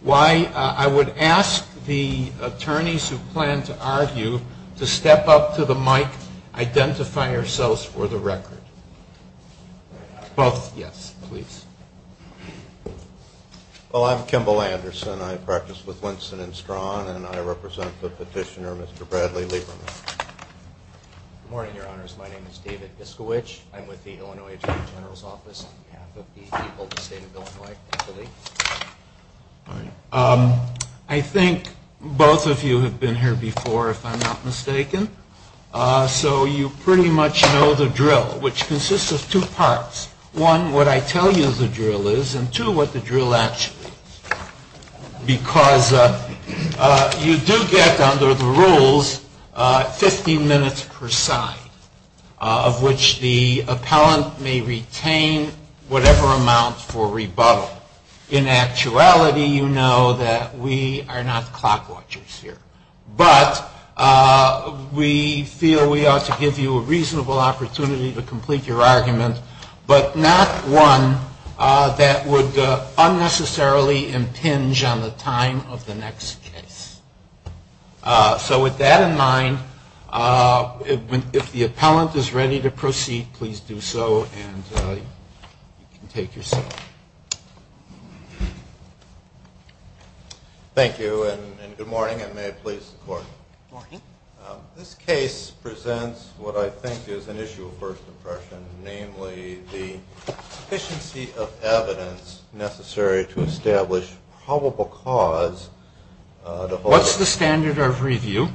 Why, I would ask the attorneys who plan to argue to step up to the mic, identify yourselves for the record. Both, yes, please. Well, I'm Kimball Anderson. I practice with Winston and Strawn and I represent the petitioner, Mr. Bradley Lieberman. Good morning, your honors. My name is David Biskowich. I'm with the Illinois Attorney General's Office on behalf of the people of the state of Illinois. I think both of you have been here before, if I'm not mistaken. So you pretty much know the drill, which consists of two parts. One, what I tell you the drill is, and two, what the drill actually is. Because you do get under the rules 15 minutes per side, of which the appellant may retain whatever amount for rebuttal. In actuality, you know that we are not clock watchers here. But we feel we ought to give you a reasonable opportunity to complete your argument, but not one that would unnecessarily impinge on the time of the next case. So with that in mind, if the appellant is ready to proceed, please do so and you can take your seat. Thank you and good morning and may it please the court. Morning. This case presents what I think is an issue of first impression, namely the deficiency of evidence necessary to establish probable cause. What's the standard of review?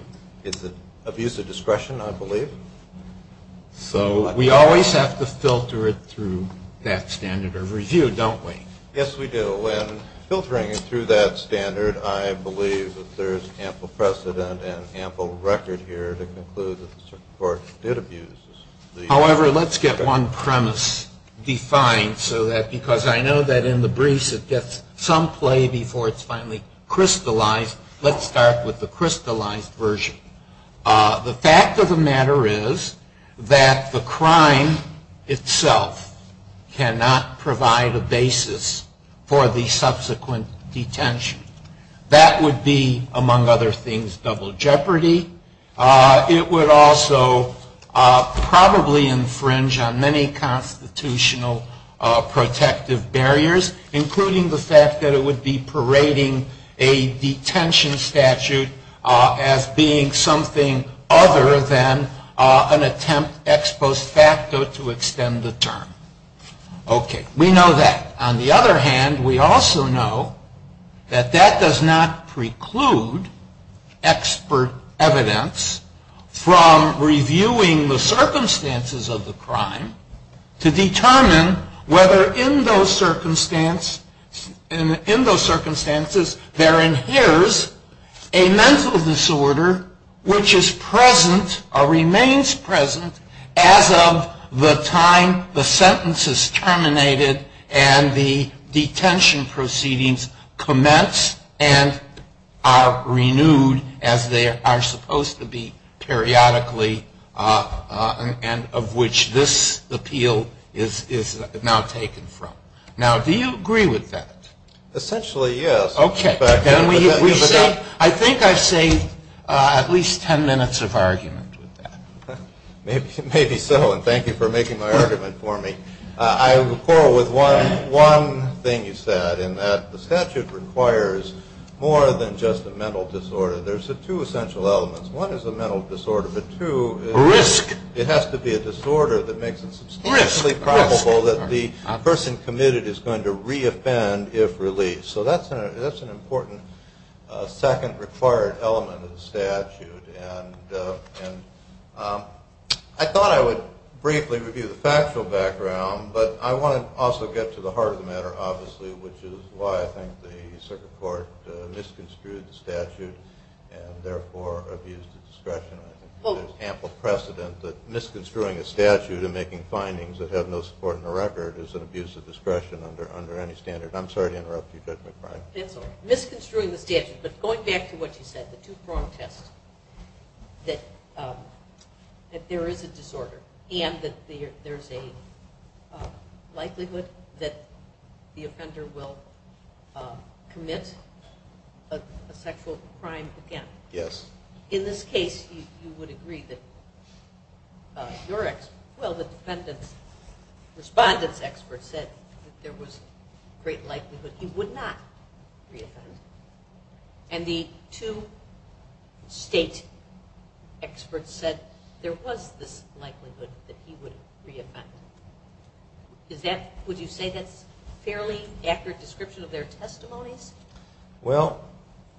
It's abuse of discretion, I believe. So we always have to filter it through that standard of review, don't we? Yes, we do. And filtering it through that standard, I believe that there is ample precedent and ample record here to conclude that the Supreme Court did abuse. However, let's get one premise defined so that, because I know that in the briefs it gets some play before it's finally crystallized, let's start with the crystallized version. The fact of the matter is that the crime itself cannot provide a basis for the subsequent detention. That would be, among other things, double jeopardy. It would also probably infringe on many constitutional protective barriers, including the fact that it would be parading a detention statute as being something other than an attempt ex post facto to extend the term. Okay. We know that. On the other hand, we also know that that does not preclude expert evidence from reviewing the circumstances of the crime to determine whether in those circumstances there inheres a mental disorder which is present or remains present as of the time, the sentence is terminated and the detention proceedings commence and are renewed as they are supposed to be periodically and of which this appeal is now taken from. Now, do you agree with that? Essentially, yes. Okay. I think I've saved at least ten minutes of argument with that. Maybe so, and thank you for making my argument for me. I will quarrel with one thing you said in that the statute requires more than just a mental disorder. There's two essential elements. One is a mental disorder, but two is it has to be a disorder that makes it substantially probable that the person committed is going to re-offend if released. So that's an important second required element of the statute. And I thought I would briefly review the factual background, but I want to also get to the heart of the matter, obviously, which is why I think the Circuit Court misconstrued the statute and therefore abused its discretion. There's ample precedent that misconstruing a statute and making findings that have no support in the record is an abuse of discretion under any standard. I'm sorry to interrupt you, Judge McBride. That's all right. Misconstruing the statute, but going back to what you said, the two-prong test, that there is a disorder and that there's a likelihood that the offender will commit a sexual crime again. Yes. In this case, you would agree that your – well, the defendant's – respondent's expert said that there was a great likelihood he would not re-offend, and the two state experts said there was this likelihood that he would re-offend. Is that – would you say that's a fairly accurate description of their testimonies? Well,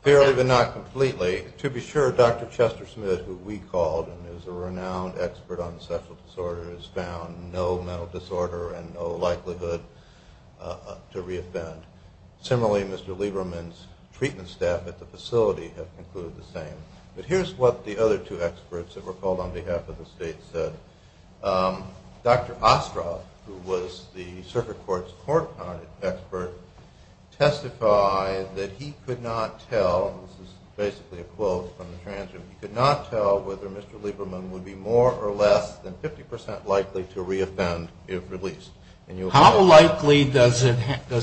fairly but not completely. To be sure, Dr. Chester Smith, who we called and is a renowned expert on sexual disorders, found no mental disorder and no likelihood to re-offend. Similarly, Mr. Lieberman's treatment staff at the facility have concluded the same. But here's what the other two experts that were called on behalf of the state said. Dr. Ostroff, who was the circuit court's court-counted expert, testified that he could not tell – this is basically a quote from the transcript – he could not tell whether Mr. Lieberman would be more or less than 50 percent likely to re-offend if released. How likely does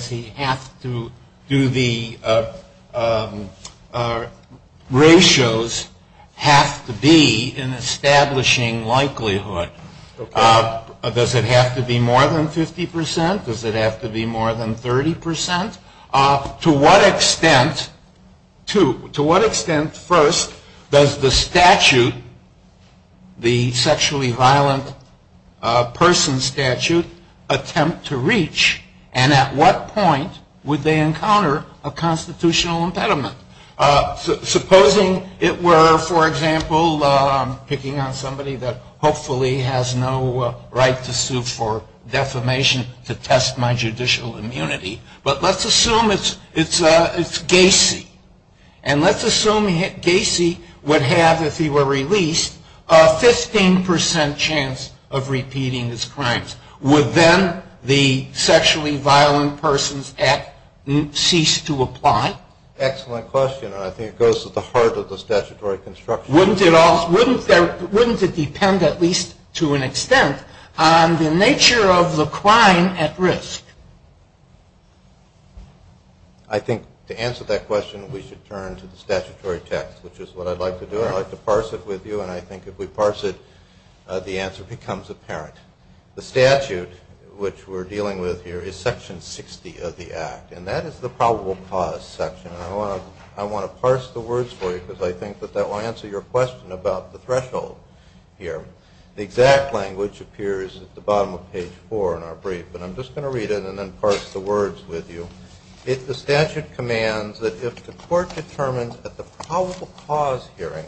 he have to do the ratios have to be in establishing likelihood? Does it have to be more than 50 percent? Does it have to be more than 30 percent? To what extent – to what extent, first, does the statute, the sexually violent person statute, attempt to reach? And at what point would they encounter a constitutional impediment? Supposing it were, for example, picking on somebody that hopefully has no right to sue for defamation to test my judicial immunity. But let's assume it's Gacy. And let's assume Gacy would have, if he were released, a 15 percent chance of repeating his crimes. Would then the sexually violent persons act cease to apply? Excellent question. I think it goes to the heart of the statutory construction. Wouldn't it depend, at least to an extent, on the nature of the crime at risk? I think to answer that question, we should turn to the statutory text, which is what I'd like to do. I'd like to parse it with you, and I think if we parse it, the answer becomes apparent. The statute, which we're dealing with here, is Section 60 of the Act, and that is the probable cause section. I want to parse the words for you because I think that that will answer your question about the threshold here. The exact language appears at the bottom of page 4 in our brief, but I'm just going to read it and then parse the words with you. The statute commands that if the court determines at the probable cause hearing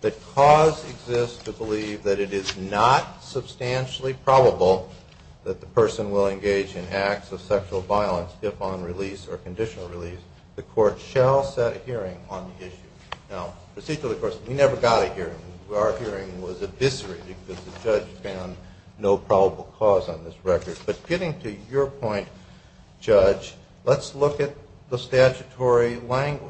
that cause exists to believe that it is not substantially probable that the person will engage in acts of sexual violence if on release or conditional release, the court shall set a hearing on the issue. Now, procedurally, of course, we never got a hearing. Our hearing was eviscerated because the judge found no probable cause on this record. But getting to your point, Judge, let's look at the statutory language.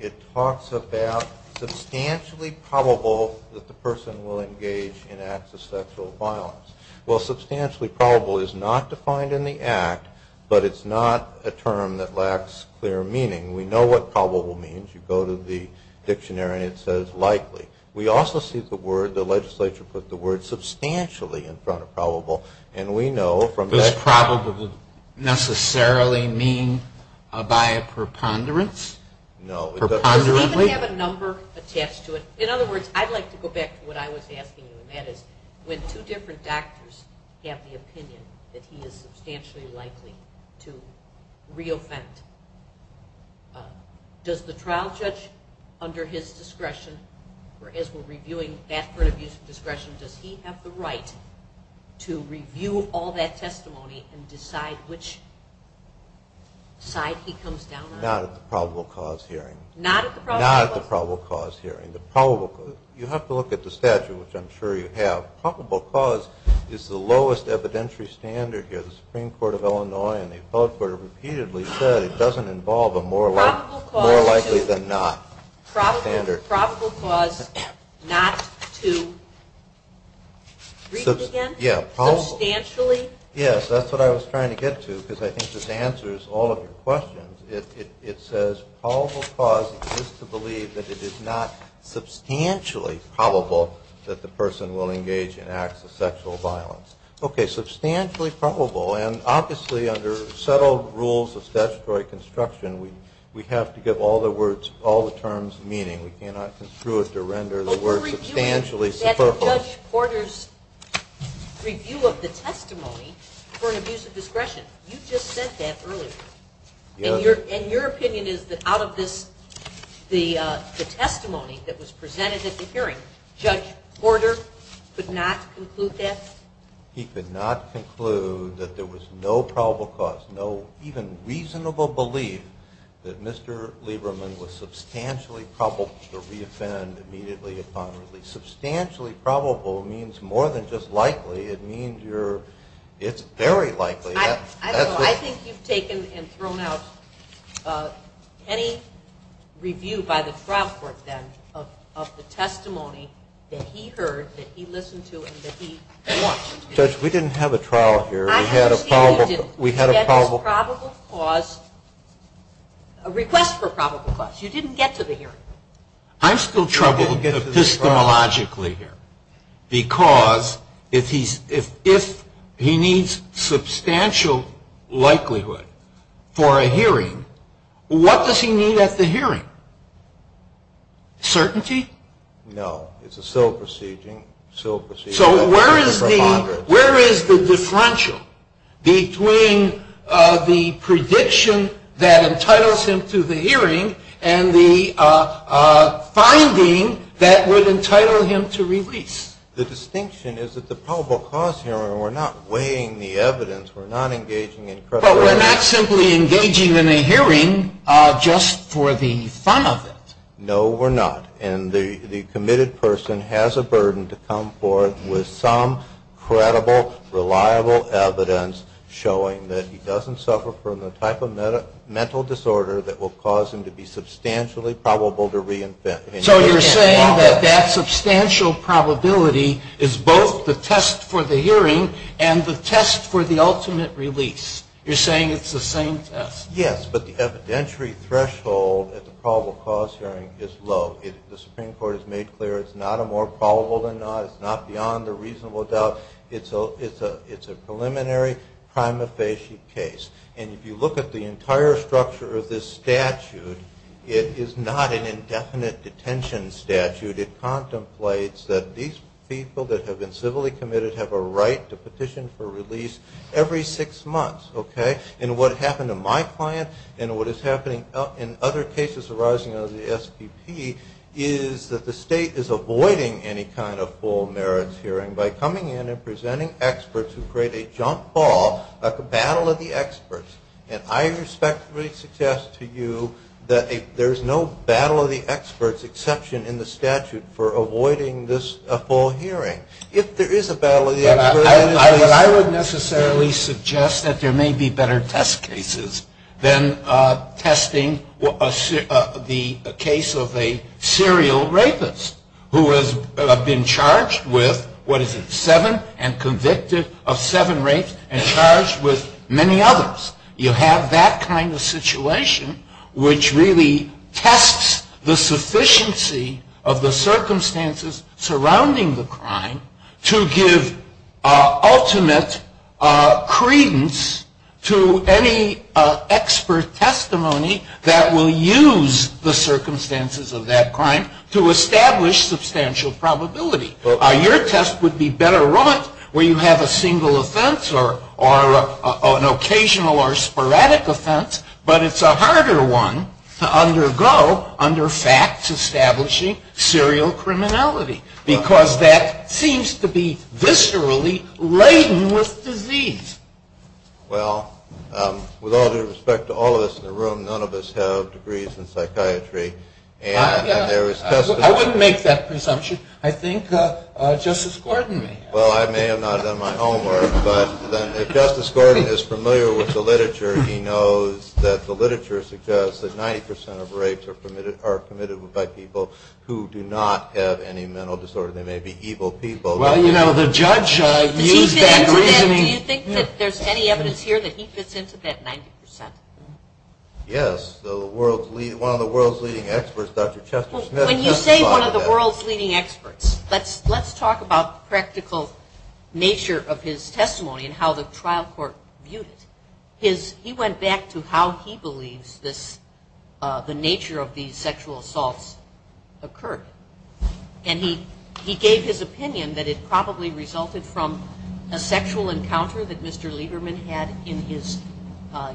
It talks about substantially probable that the person will engage in acts of sexual violence. Well, substantially probable is not defined in the Act, but it's not a term that lacks clear meaning. We know what probable means. You go to the dictionary and it says likely. We also see the word, the legislature put the word substantially in front of probable, and we know from that... Does probable necessarily mean by a preponderance? No. Does it even have a number attached to it? In other words, I'd like to go back to what I was asking you, and that is when two different doctors have the opinion that he is substantially likely to re-offend, does the trial judge under his discretion, or as we're reviewing that part of use of discretion, does he have the right to review all that testimony and decide which side he comes down on? Not at the probable cause hearing. Not at the probable cause hearing. You have to look at the statute, which I'm sure you have. Probable cause is the lowest evidentiary standard here. The Supreme Court of Illinois and the appellate court have repeatedly said it doesn't involve a more likely than not standard. Probable cause not to re-offend? Substantially? Yes, that's what I was trying to get to, because I think this answers all of your questions. It says probable cause is to believe that it is not substantially probable that the person will engage in acts of sexual violence. Okay, substantially probable. And obviously, under settled rules of statutory construction, we have to give all the terms meaning. We cannot construe it to render the word substantially superfluous. But we're reviewing Judge Porter's review of the testimony for an abuse of discretion. You just said that earlier. And your opinion is that out of the testimony that was presented at the hearing, Judge Porter could not conclude that? He could not conclude that there was no probable cause, no even reasonable belief, that Mr. Lieberman was substantially probable to re-offend immediately upon release. Substantially probable means more than just likely. It means it's very likely. I don't know. I think you've taken and thrown out any review by the trial court then of the testimony that he heard, that he listened to, and that he watched. Judge, we didn't have a trial here. We had a probable cause. I understand you didn't get his probable cause, request for probable cause. You didn't get to the hearing. I'm still troubled epistemologically here. Because if he needs substantial likelihood for a hearing, what does he need at the hearing? Certainty? No. It's a civil proceeding. So where is the differential between the prediction that entitles him to the hearing and the finding that would entitle him to release? The distinction is that the probable cause hearing, we're not weighing the evidence. We're not engaging in credibility. But we're not simply engaging in a hearing just for the fun of it. No, we're not. And the committed person has a burden to come forth with some credible, reliable evidence showing that he doesn't suffer from the type of mental disorder that will cause him to be substantially probable to reinvent. So you're saying that that substantial probability is both the test for the hearing and the test for the ultimate release. You're saying it's the same test. Yes. But the evidentiary threshold at the probable cause hearing is low. The Supreme Court has made clear it's not a more probable than not. It's not beyond a reasonable doubt. It's a preliminary prima facie case. And if you look at the entire structure of this statute, it is not an indefinite detention statute. It contemplates that these people that have been civilly committed have a right to petition for release every six months. Okay? And what happened to my client and what is happening in other cases arising out of the SPP is that the State is avoiding any kind of full merits hearing by coming in and presenting experts who create a jump ball, a battle of the experts. And I respectfully suggest to you that there's no battle of the experts exception in the statute for avoiding this full hearing. But I would necessarily suggest that there may be better test cases than testing the case of a serial rapist who has been charged with, what is it, seven and convicted of seven rapes and charged with many others. You have that kind of situation which really tests the sufficiency of the circumstances surrounding the crime to give ultimate credence to any expert testimony that will use the circumstances of that crime to establish substantial probability. Your test would be better wrought where you have a single offense or an occasional or sporadic offense, but it's a harder one to undergo under facts establishing serial criminality because that seems to be viscerally laden with disease. Well, with all due respect to all of us in the room, none of us have degrees in psychiatry. I wouldn't make that presumption. I think Justice Gordon may have. Well, I may have not done my homework, but if Justice Gordon is familiar with the literature, he knows that the literature suggests that 90% of rapes are committed by people who do not have any mental disorder. They may be evil people. Well, you know, the judge used that reasoning. Do you think that there's any evidence here that he fits into that 90%? Yes. One of the world's leading experts, Dr. Chester Smith. When you say one of the world's leading experts, let's talk about the practical nature of his testimony and how the trial court viewed it. He went back to how he believes the nature of these sexual assaults occurred. And he gave his opinion that it probably resulted from a sexual encounter that Mr. Lieberman had in his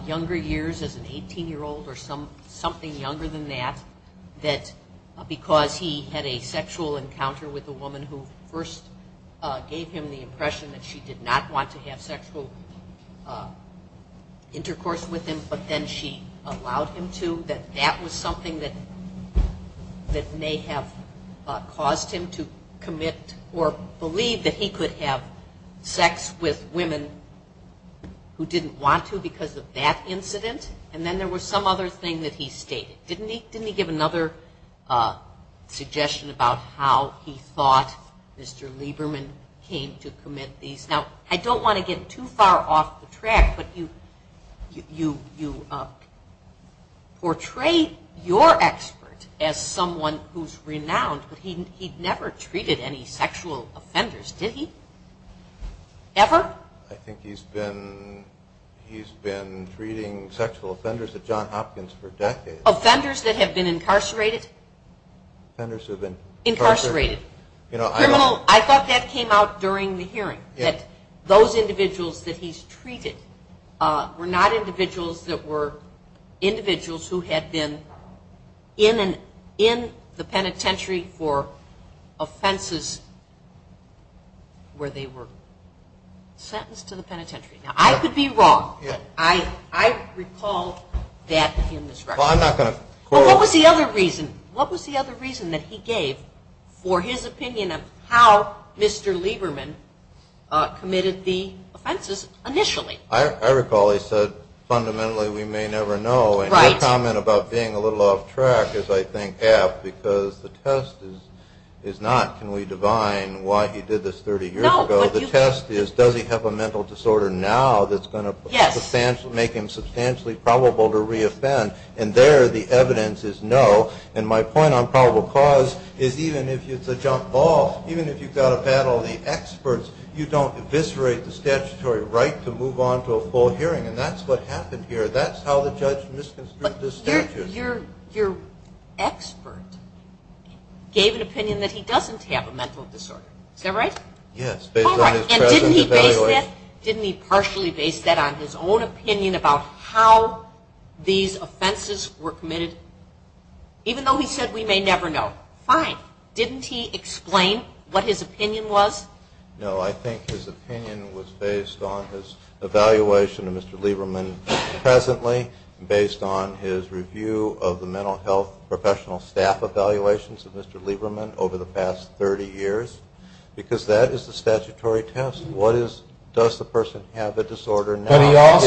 younger years as an 18-year-old or something younger than that, that because he had a sexual encounter with a woman who first gave him the impression that she did not want to have sexual intercourse with him, but then she allowed him to, that that was something that may have led him to that. That may have caused him to commit or believe that he could have sex with women who didn't want to because of that incident, and then there was some other thing that he stated. Didn't he give another suggestion about how he thought Mr. Lieberman came to commit these? Now, I don't want to get too far off the track, but you portray your expert as someone who's renowned in the field. He never treated any sexual offenders, did he? Ever? I think he's been treating sexual offenders at Johns Hopkins for decades. Offenders that have been incarcerated? Offenders who have been incarcerated. I thought that came out during the hearing, that those individuals that he's treated were not individuals that were individuals who had been in the penitentiary for offenses where they were sentenced to the penitentiary. Now, I could be wrong. I recall that in this record. What was the other reason that he gave for his opinion of how Mr. Lieberman committed the offenses initially? I recall he said, fundamentally, we may never know, and your comment about being a little off track is, I think, half, because the test is not, can we divine why he did this 30 years ago? The test is, does he have a mental disorder now that's going to make him substantially probable to reoffend? There, the evidence is no, and my point on probable cause is even if it's a jump ball, even if you've got a panel of the experts, you don't eviscerate the statutory right to move on to a full hearing, and that's what happened here. That's how the judge misconstrued the statute. Your expert gave an opinion that he doesn't have a mental disorder, is that right? Yes, based on his present evaluation. Didn't he partially base that on his own opinion about how these offenses were committed? Even though he said we may never know. Fine. Didn't he explain what his opinion was? No, I think his opinion was based on his evaluation of Mr. Lieberman presently, based on his review of the mental health professional staff evaluations of Mr. Lieberman over the past 30 years, because that is the statutory test. What is, does the person have a disorder now?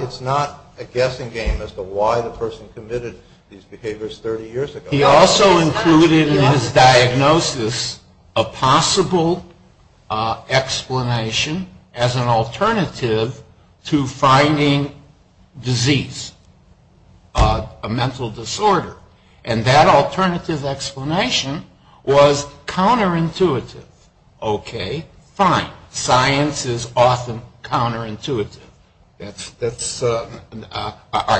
It's not a guessing game as to why the person committed these behaviors 30 years ago. He also included in his diagnosis a possible explanation as an alternative to finding disease, a mental disorder, and that alternative explanation was counterintuitive. Okay, fine. Science is often counterintuitive. That's, or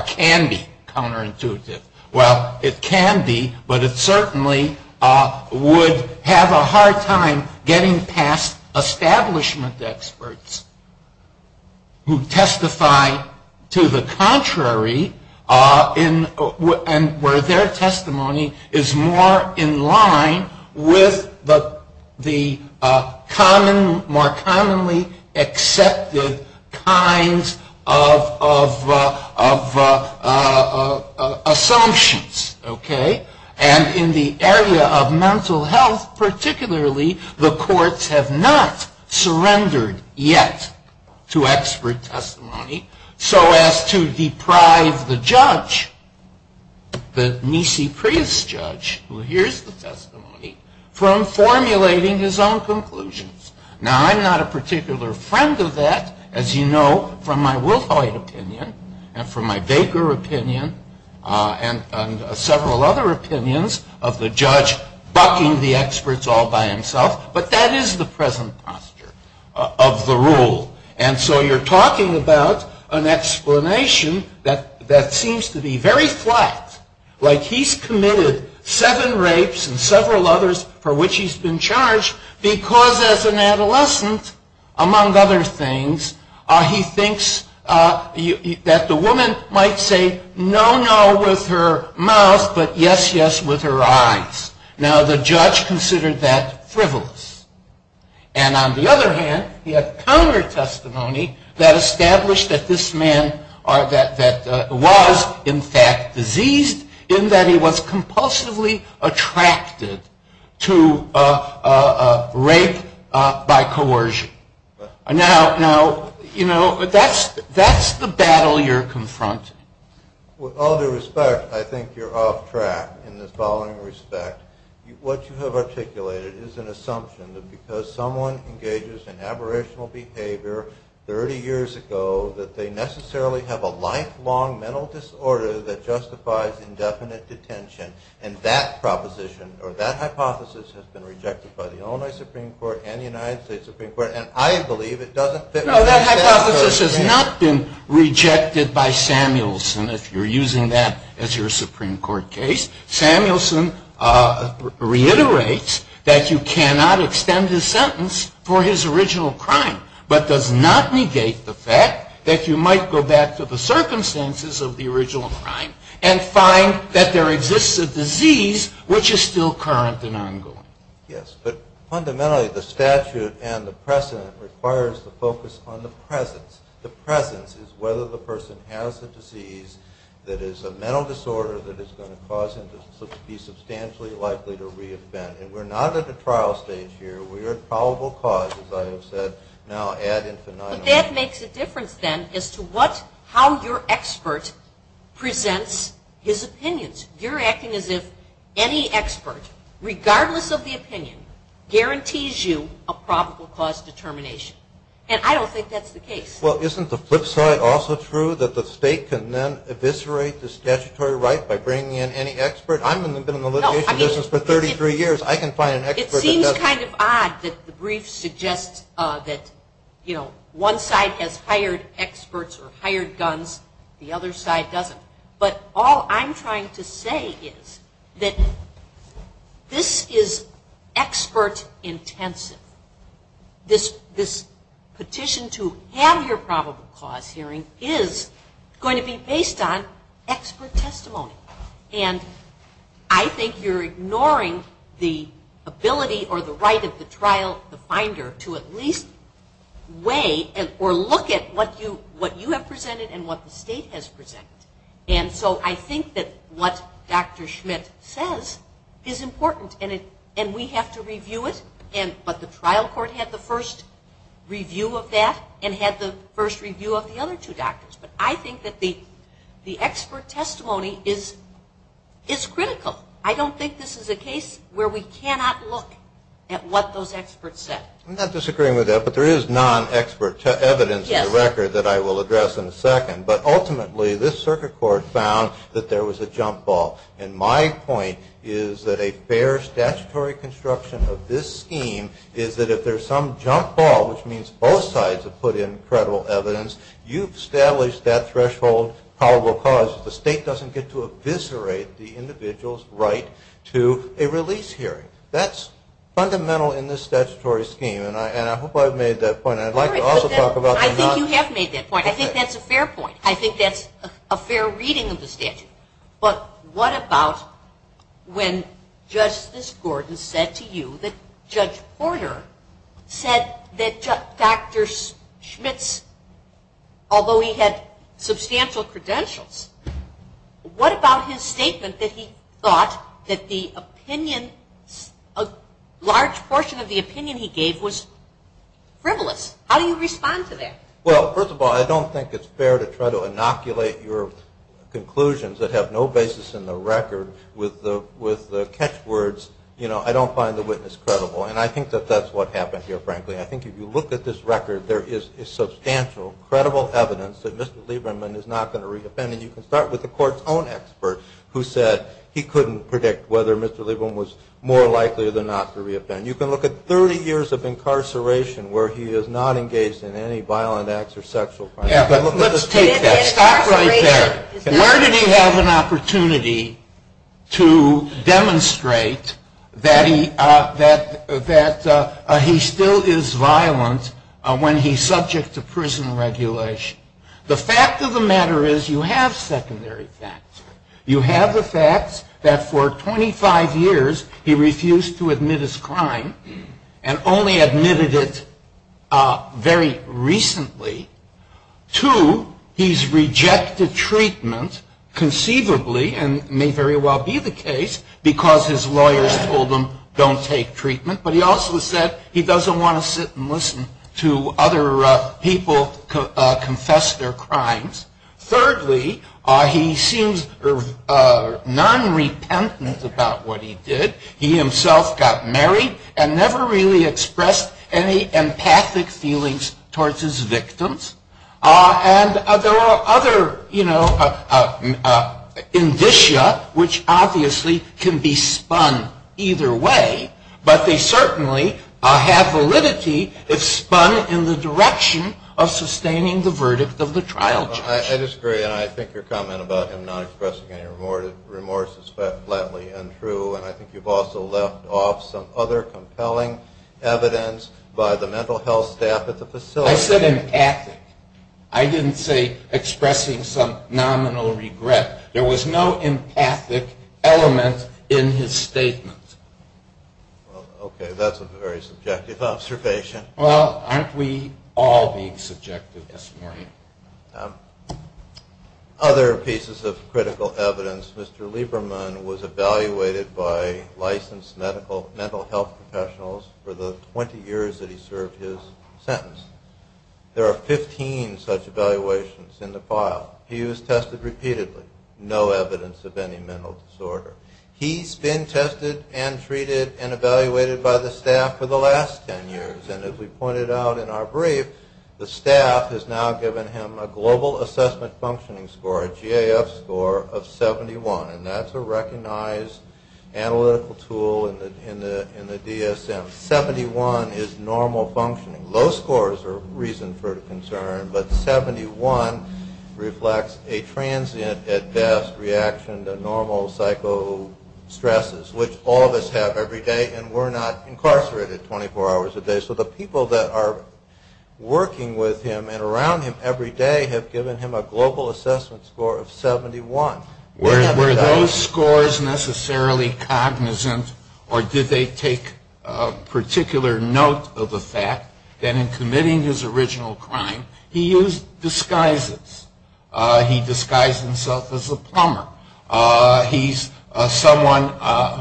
can be counterintuitive. Well, it can be, but it certainly would have a hard time getting past establishment experts who testify to the contrary, and where their testimony is more in line with the evidence. And in the area of mental health, particularly, the courts have not surrendered yet to expert testimony, so as to deprive the judge, the Mise Prius judge, who hears the testimony, from formulating his own opinion. Now, I'm not a particular friend of that, as you know, from my Wilhite opinion, and from my Baker opinion, and several other opinions of the judge bucking the experts all by himself, but that is the present posture of the rule. And so you're talking about an explanation that seems to be very flat, like he's committed seven rapes and several others for which he's been charged. Because, as an adolescent, among other things, he thinks that the woman might say, no, no, with her mouth, but yes, yes, with her eyes. Now, the judge considered that frivolous, and on the other hand, he had counter-testimony that established that this man was, in fact, diseased, in that he was compulsively attracted to a woman. Rape by coercion. Now, you know, that's the battle you're confronting. With all due respect, I think you're off track in this following respect. What you have articulated is an assumption that because someone engages in aberrational behavior 30 years ago, that they necessarily have a lifelong mental disorder that justifies indefinite detention. And that proposition, or that hypothesis, has been rejected by the Illinois Supreme Court and the United States Supreme Court, and I believe it doesn't fit. No, that hypothesis has not been rejected by Samuelson, if you're using that as your Supreme Court case. Samuelson reiterates that you cannot extend his sentence for his original crime, but does not negate the fact that you might go back to the circumstances of the original crime and find that there exists some other possibility. There's a disease which is still current and ongoing. Yes, but fundamentally, the statute and the precedent requires the focus on the presence. The presence is whether the person has a disease that is a mental disorder that is going to cause him to be substantially likely to reinvent. And we're not at a trial stage here. We are at probable cause, as I have said, now ad infinitum. But that makes a difference, then, as to what, how your expert presents his opinions. You're acting as if any expert, regardless of the opinion, guarantees you a probable cause determination. And I don't think that's the case. Well, isn't the flip side also true, that the state can then eviscerate the statutory right by bringing in any expert? I've been in the litigation business for 33 years. I can find an expert. It seems kind of odd that the brief suggests that, you know, one side has hired experts or hired guns, the other side doesn't. But all I'm trying to say is that this is expert intensive. This petition to have your probable cause hearing is going to be based on expert testimony. And I think you're ignoring the ability or the right of the trial, the finder, to at least weigh or look at what you have presented and what the state has presented. And so I think that what Dr. Schmidt says is important. And we have to review it. But the trial court had the first review of that and had the first review of the other two doctors. But I think that the expert testimony is critical. I don't think this is a case where we cannot look at what those experts said. I'm not disagreeing with that, but there is non-expert evidence in the record that I will address in a second. But ultimately, this circuit court found that there was a jump ball. And my point is that a fair statutory construction of this scheme is that if there's some jump ball, which means both sides have put in credible evidence, you've established that threshold probable cause if the state doesn't get to eviscerate the individual's right to a release hearing. That's fundamental in this statutory scheme, and I hope I've made that point. I'd like to also talk about the non-expert evidence. I think you have made that point. I think that's a fair point. I think that's a fair reading of the statute. But what about when Justice Gordon said to you that Judge Porter said that Dr. Schmitz, although he had substantial credentials, what about his statement that he thought that the opinion, a large portion of the opinion he gave was frivolous? How do you respond to that? Well, first of all, I don't think it's fair to try to inoculate your conclusions that have no basis in the record with the catchwords, you know, I don't find the witness credible. And I think that that's what happened here, frankly. I think if you look at this record, there is substantial, credible evidence that Mr. Lieberman is not going to reoffend. And you can start with the court's own expert who said he couldn't predict whether Mr. Lieberman was more likely than not to reoffend. You can look at 30 years of incarceration where he is not engaged in any violent acts or sexual crimes. Let's take that. Stop right there. Where did he have an opportunity to demonstrate that he still is violent when he's subject to prison regulation? The fact of the matter is you have secondary facts. You have the facts that for 25 years he refused to admit his crime and only admitted it very recently. Two, he's rejected treatment conceivably and may very well be the case because his lawyers told him don't take treatment. But he also said he doesn't want to sit and listen to other people confess their crimes. Thirdly, he seems non-repentant about what he did. He himself got married and never really expressed any empathic feelings towards his victims. And there are other indicia which obviously can be spun either way, but they certainly have validity if spun in the direction of sustaining the verdict of the trial judge. I disagree and I think your comment about him not expressing any remorse is flatly untrue and I think you've also left off some other compelling evidence by the mental health staff at the facility. I said empathic. I didn't say expressing some nominal regret. There was no empathic element in his statement. Okay, that's a very subjective observation. Well, aren't we all being subjective this morning? Other pieces of critical evidence. Mr. Lieberman was evaluated by licensed mental health professionals for the 20 years that he served his sentence. There are 15 such evaluations in the file. He was tested repeatedly. No evidence of any mental disorder. He's been tested and treated and evaluated by the staff for the last 10 years and as we pointed out in our brief, the staff has now given him a global assessment functioning score, a GAF score of 71, and that's a recognized analytical tool in the DSM. 71 is normal functioning. Low scores are a reason for concern, but 71 reflects a transient at best reaction to normal psycho stresses, which all of us have every day and we're not incarcerated 24 hours a day. So the people that are working with him and around him every day have given him a global assessment score of 71. Were those scores necessarily cognizant or did they take particular note of the fact that in committing his original crime, he used disguises? He disguised himself as a plumber. He's someone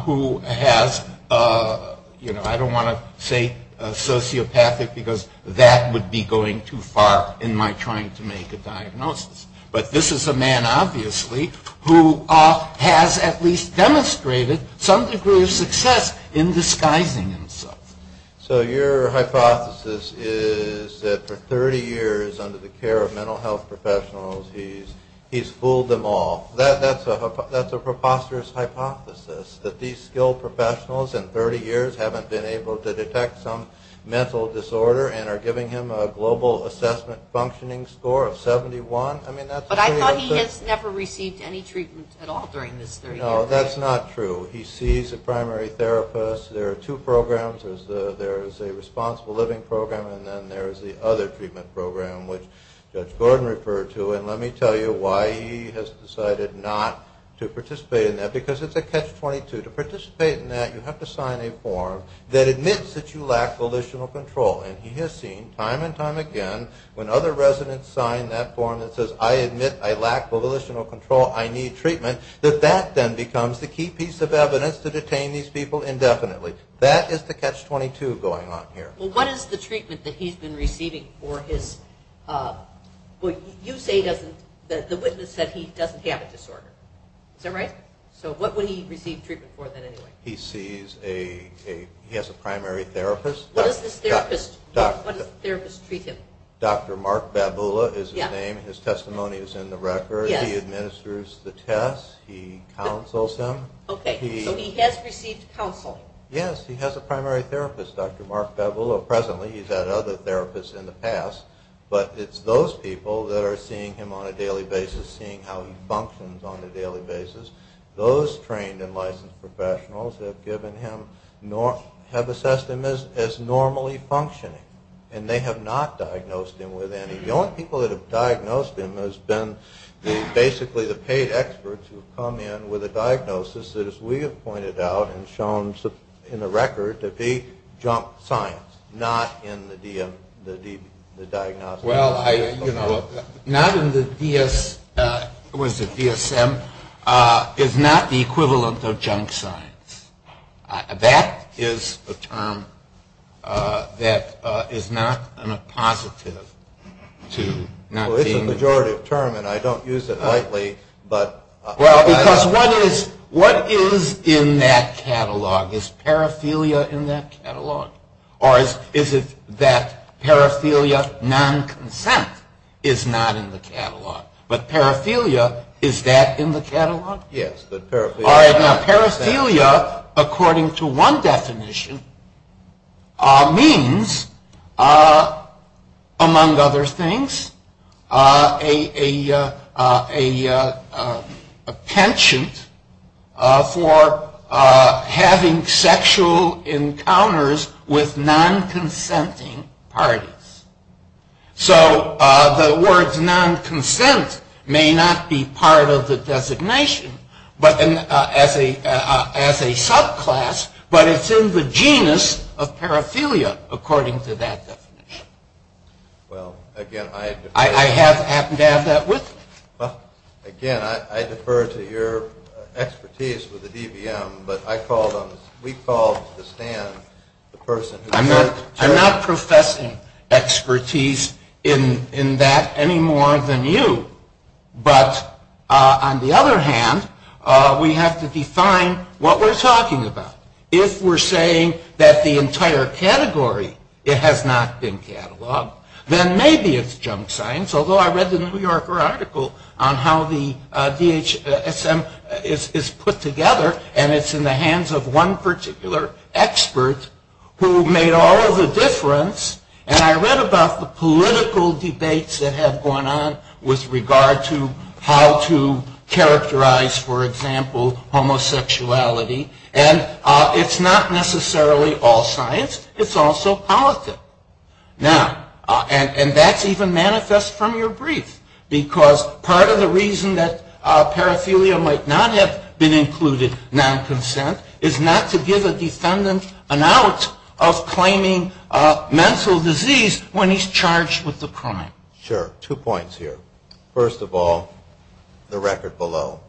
who has, you know, I don't want to say sociopathic because that would be going too far in my trying to make a diagnosis. But this is a man obviously who has at least demonstrated some degree of success in disguising himself. So your hypothesis is that for 30 years under the care of mental health professionals, he's fooled them all. That's a preposterous hypothesis, that these skilled professionals in 30 years haven't been able to detect some mental disorder and are giving him a global assessment functioning score of 71. But I thought he has never received any treatment at all during this 30 years. No, that's not true. He sees a primary therapist. There are two programs. There's a responsible living program and then there's the other treatment program, which Judge Gordon referred to. And let me tell you why he has decided not to participate in that, because it's a catch-22. To participate in that, you have to sign a form that admits that you lack volitional control. And he has seen time and time again when other residents sign that form that says, I admit I lack volitional control, I need treatment, that that then becomes the key piece of evidence to detain these people indefinitely. That is the catch-22 going on here. Well, what is the treatment that he's been receiving for his... You say the witness said he doesn't have a disorder. Is that right? So what would he receive treatment for then, anyway? He has a primary therapist. Dr. Mark Babula is his name. His testimony is in the record. He administers the tests. He counsels him. Okay, so he has received counseling. Yes, he has a primary therapist, Dr. Mark Babula. Presently he's had other therapists in the past. But it's those people that are seeing him on a daily basis, seeing how he functions on a daily basis. Those trained and licensed professionals have assessed him as normally functioning. And they have not diagnosed him with any... The only people that have diagnosed him has been basically the paid experts who have come in with a diagnosis that, as we have pointed out and shown in the record, to be junk science, not in the diagnostic... Well, you know, not in the DS... was it DSM? It's not the equivalent of junk science. That is a term that is not a positive to not seeing... Well, it's a pejorative term, and I don't use it lightly, but... Well, because what is in that catalog? Is paraphilia in that catalog? Or is it that paraphilia non-consent is not in the catalog? But paraphilia, is that in the catalog? Yes, but paraphilia... Paraphilia, according to one definition, means, among other things, a penchant for having sexual encounters with non-consenting parties. So the words non-consent may not be part of the designation as a subclass, but it's in the genus of paraphilia, according to that definition. Well, again, I... I happen to have that with me. Well, again, I defer to your expertise with the DVM, but I call them... we call the stand the person who... I'm not professing expertise in that any more than you, but on the other hand, we have to define what we're talking about. If we're saying that the entire category, it has not been cataloged, then maybe it's junk science, although I read the New Yorker article on how the DHSM is put together, and it's in the hands of one particular expert who made all of the difference, and I read about the political debates that have gone on with regard to how to characterize, for example, homosexuality, and it's not necessarily all science. It's also politic. Now, and that's even manifest from your brief, because part of the reason that paraphilia might not have been included non-consent is not to give a defendant an out of claiming mental disease when he's charged with the crime. Sure. Two points here. First of all, the record below.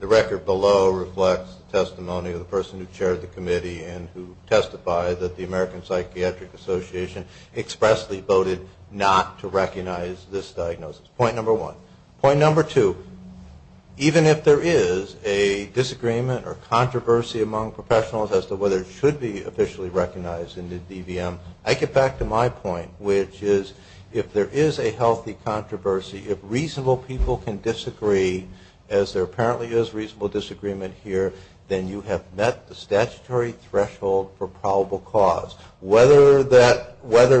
The record below reflects the testimony of the person who chaired the committee and who testified that the American Psychiatric Association expressly voted not to recognize this diagnosis. Point number one. Point number two, even if there is a disagreement or controversy among professionals as to whether it should be officially recognized in the DVM, I get back to my point, which is if there is a healthy controversy, if reasonable people can disagree, as there apparently is reasonable disagreement here, then you have met the statutory threshold for probable cause. Whether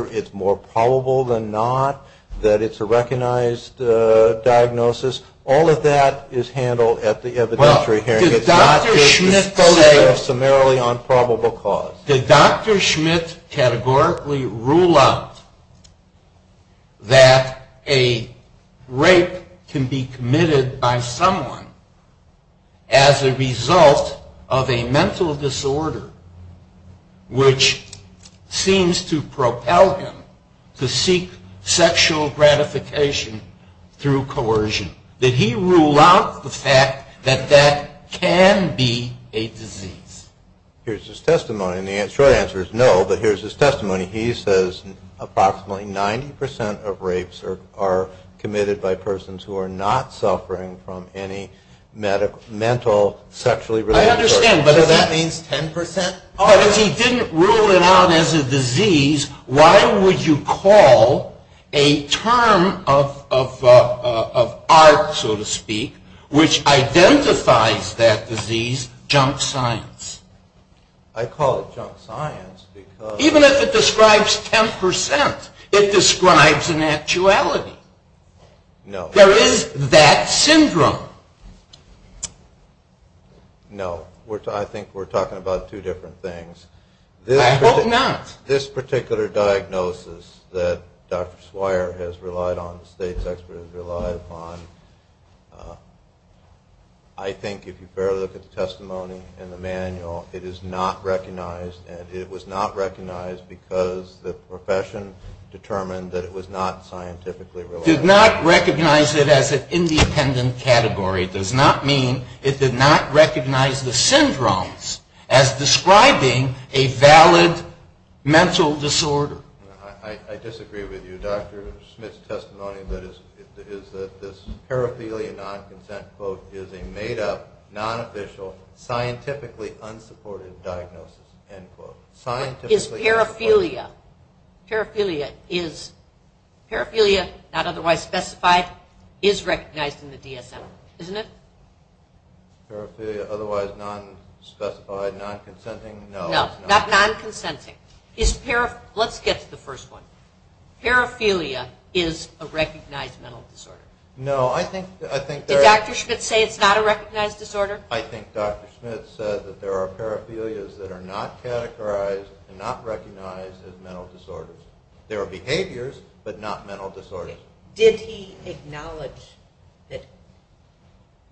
it's more probable than not that it's a recognized diagnosis, all of that is handled at the evidentiary hearing. Did Dr. Schmidt categorically rule out that a rape can be committed by someone as a result of a mental disorder which seems to propel him to seek sexual gratification through coercion? Did he rule out the fact that that can be a disease? Here's his testimony, and the short answer is no, but here's his testimony. He says approximately 90% of rapes are committed by persons who are not suffering from any mental, sexually related disorder. I understand, but does that mean 10%? If he didn't rule it out as a disease, why would you call a term of art, so to speak, which identifies that disease junk science? I call it junk science because... Even if it describes 10%, it describes an actuality. There is that syndrome. No, I think we're talking about two different things. I hope not. This particular diagnosis that Dr. Swire has relied on, the state's expert has relied upon, I think if you barely look at the testimony and the manual, it is not recognized, and it was not recognized because the profession determined that it was not scientifically... Did not recognize it as an independent category does not mean it did not recognize the syndromes as describing a valid mental disorder. I disagree with you. Dr. Smith's testimony is that this paraphilia non-consent quote is a made up, non-official, scientifically unsupported diagnosis, end quote. Is paraphilia... Paraphilia, not otherwise specified, is recognized in the DSM, isn't it? Paraphilia, otherwise non-specified, non-consenting? No, not non-consenting. Let's get to the first one. Paraphilia is a recognized mental disorder. Did Dr. Smith say it's not a recognized disorder? I think Dr. Smith said that there are paraphilias that are not categorized and not recognized as mental disorders. There are behaviors, but not mental disorders. Did he acknowledge that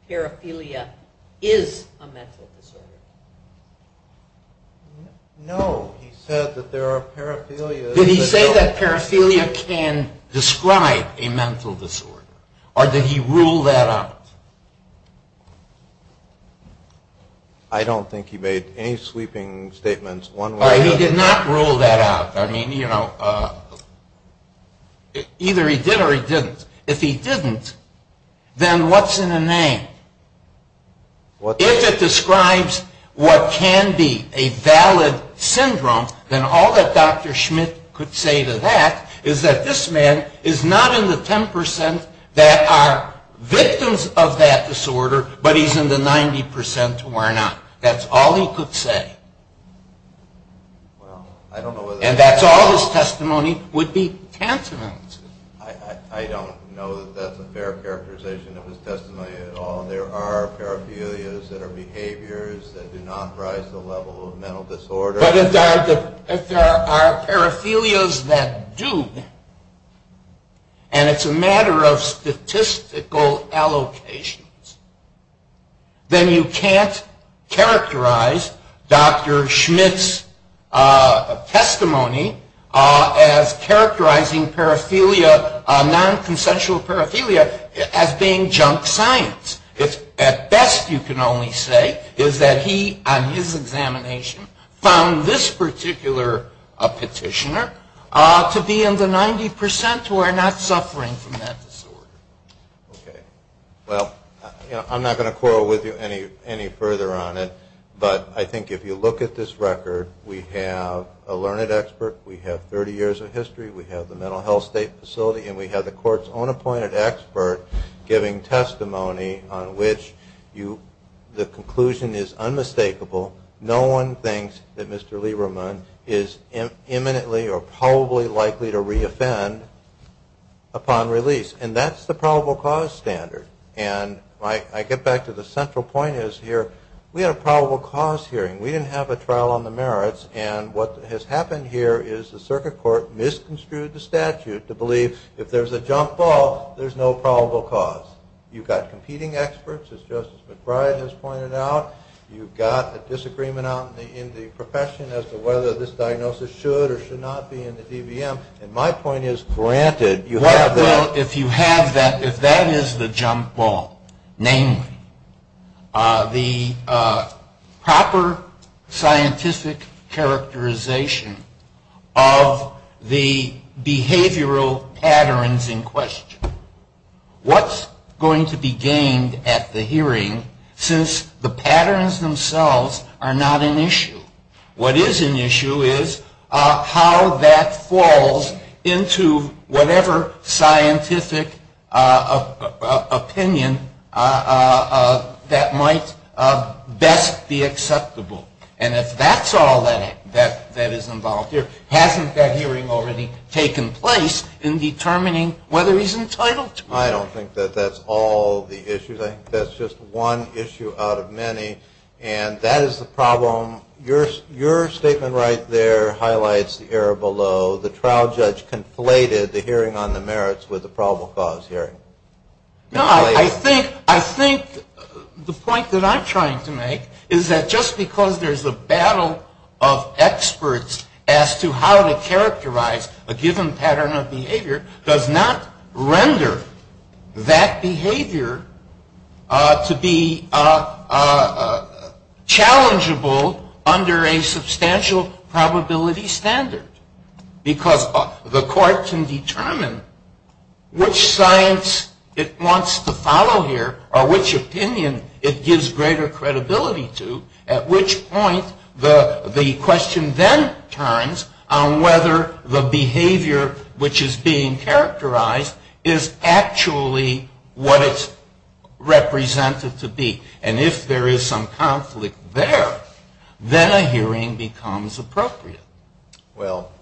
paraphilia is a mental disorder? No, he said that there are paraphilias... Did he say that paraphilia can describe a mental disorder? Or did he rule that out? I don't think he made any sweeping statements one way or the other. He did not rule that out. Either he did or he didn't. If he didn't, then what's in a name? If it describes what can be a valid syndrome, then all that Dr. Smith could say to that is that this man is not in the 10% that are victims of that disorder, but he's in the 90% who are not. That's all he could say. And that's all his testimony would be tantamount to. I don't know that that's a fair characterization of his testimony at all. There are paraphilias that are behaviors that do not rise to the level of mental disorder. But if there are paraphilias that do, and it's a matter of statistical allocations, then you can't characterize Dr. Smith's testimony as characterizing non-consensual paraphilia as being junk science. At best, you can only say that he, on his examination, found this particular petitioner to be in the 90% who are not suffering from that disorder. Well, I'm not going to quarrel with you any further on it, but I think if you look at this record, we have a learned expert, we have 30 years of history, we have the mental health state facility, and we have the court's own appointed expert giving testimony on which the conclusion is unmistakable. No one thinks that Mr. Lieberman is imminently or probably likely to re-offend upon release. And that's the probable cause standard. And I get back to the central point is here, we had a probable cause hearing. We didn't have a trial on the merits. And what has happened here is the circuit court misconstrued the statute to believe if there's a junk ball, there's no probable cause. You've got competing experts, as Justice McBride has pointed out. You've got a disagreement in the profession as to whether this diagnosis should or should not be in the DVM. And my point is, granted, you have that. Well, if you have that, if that is the junk ball, namely, the proper scientific characterization of the behavioral patterns in question, what's going to be gained at the hearing since the patterns themselves are not an issue? What is an issue is how that falls into whatever scientific opinion that might best be acceptable. And if that's all that is involved here, hasn't that hearing already taken place in determining whether he's entitled to it? I don't think that that's all the issues. I think that's just one issue out of many. And that is the problem. Your statement right there highlights the error below. The trial judge conflated the hearing on the merits with the probable cause hearing. No, I think the point that I'm trying to make is that just because there's a battle of experts as to how to characterize a given pattern of behavior does not render that behavior to be challengeable under a substantial probability standard. Because the court can determine which science it wants to follow here or which opinion it gives greater credibility to, at which point the question then turns on whether the behavior which is being characterized is actually what it's represented to be. And if there is some conflict there, then a hearing becomes appropriate. Well,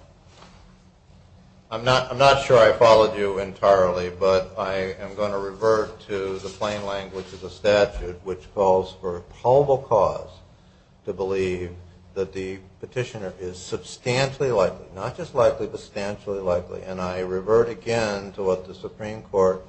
I'm not sure I followed you entirely, but I am going to revert to the plain language of the statute, which calls for probable cause to believe that the petitioner is substantially likely, not just likely, but substantially likely. And I revert again to what the Supreme Court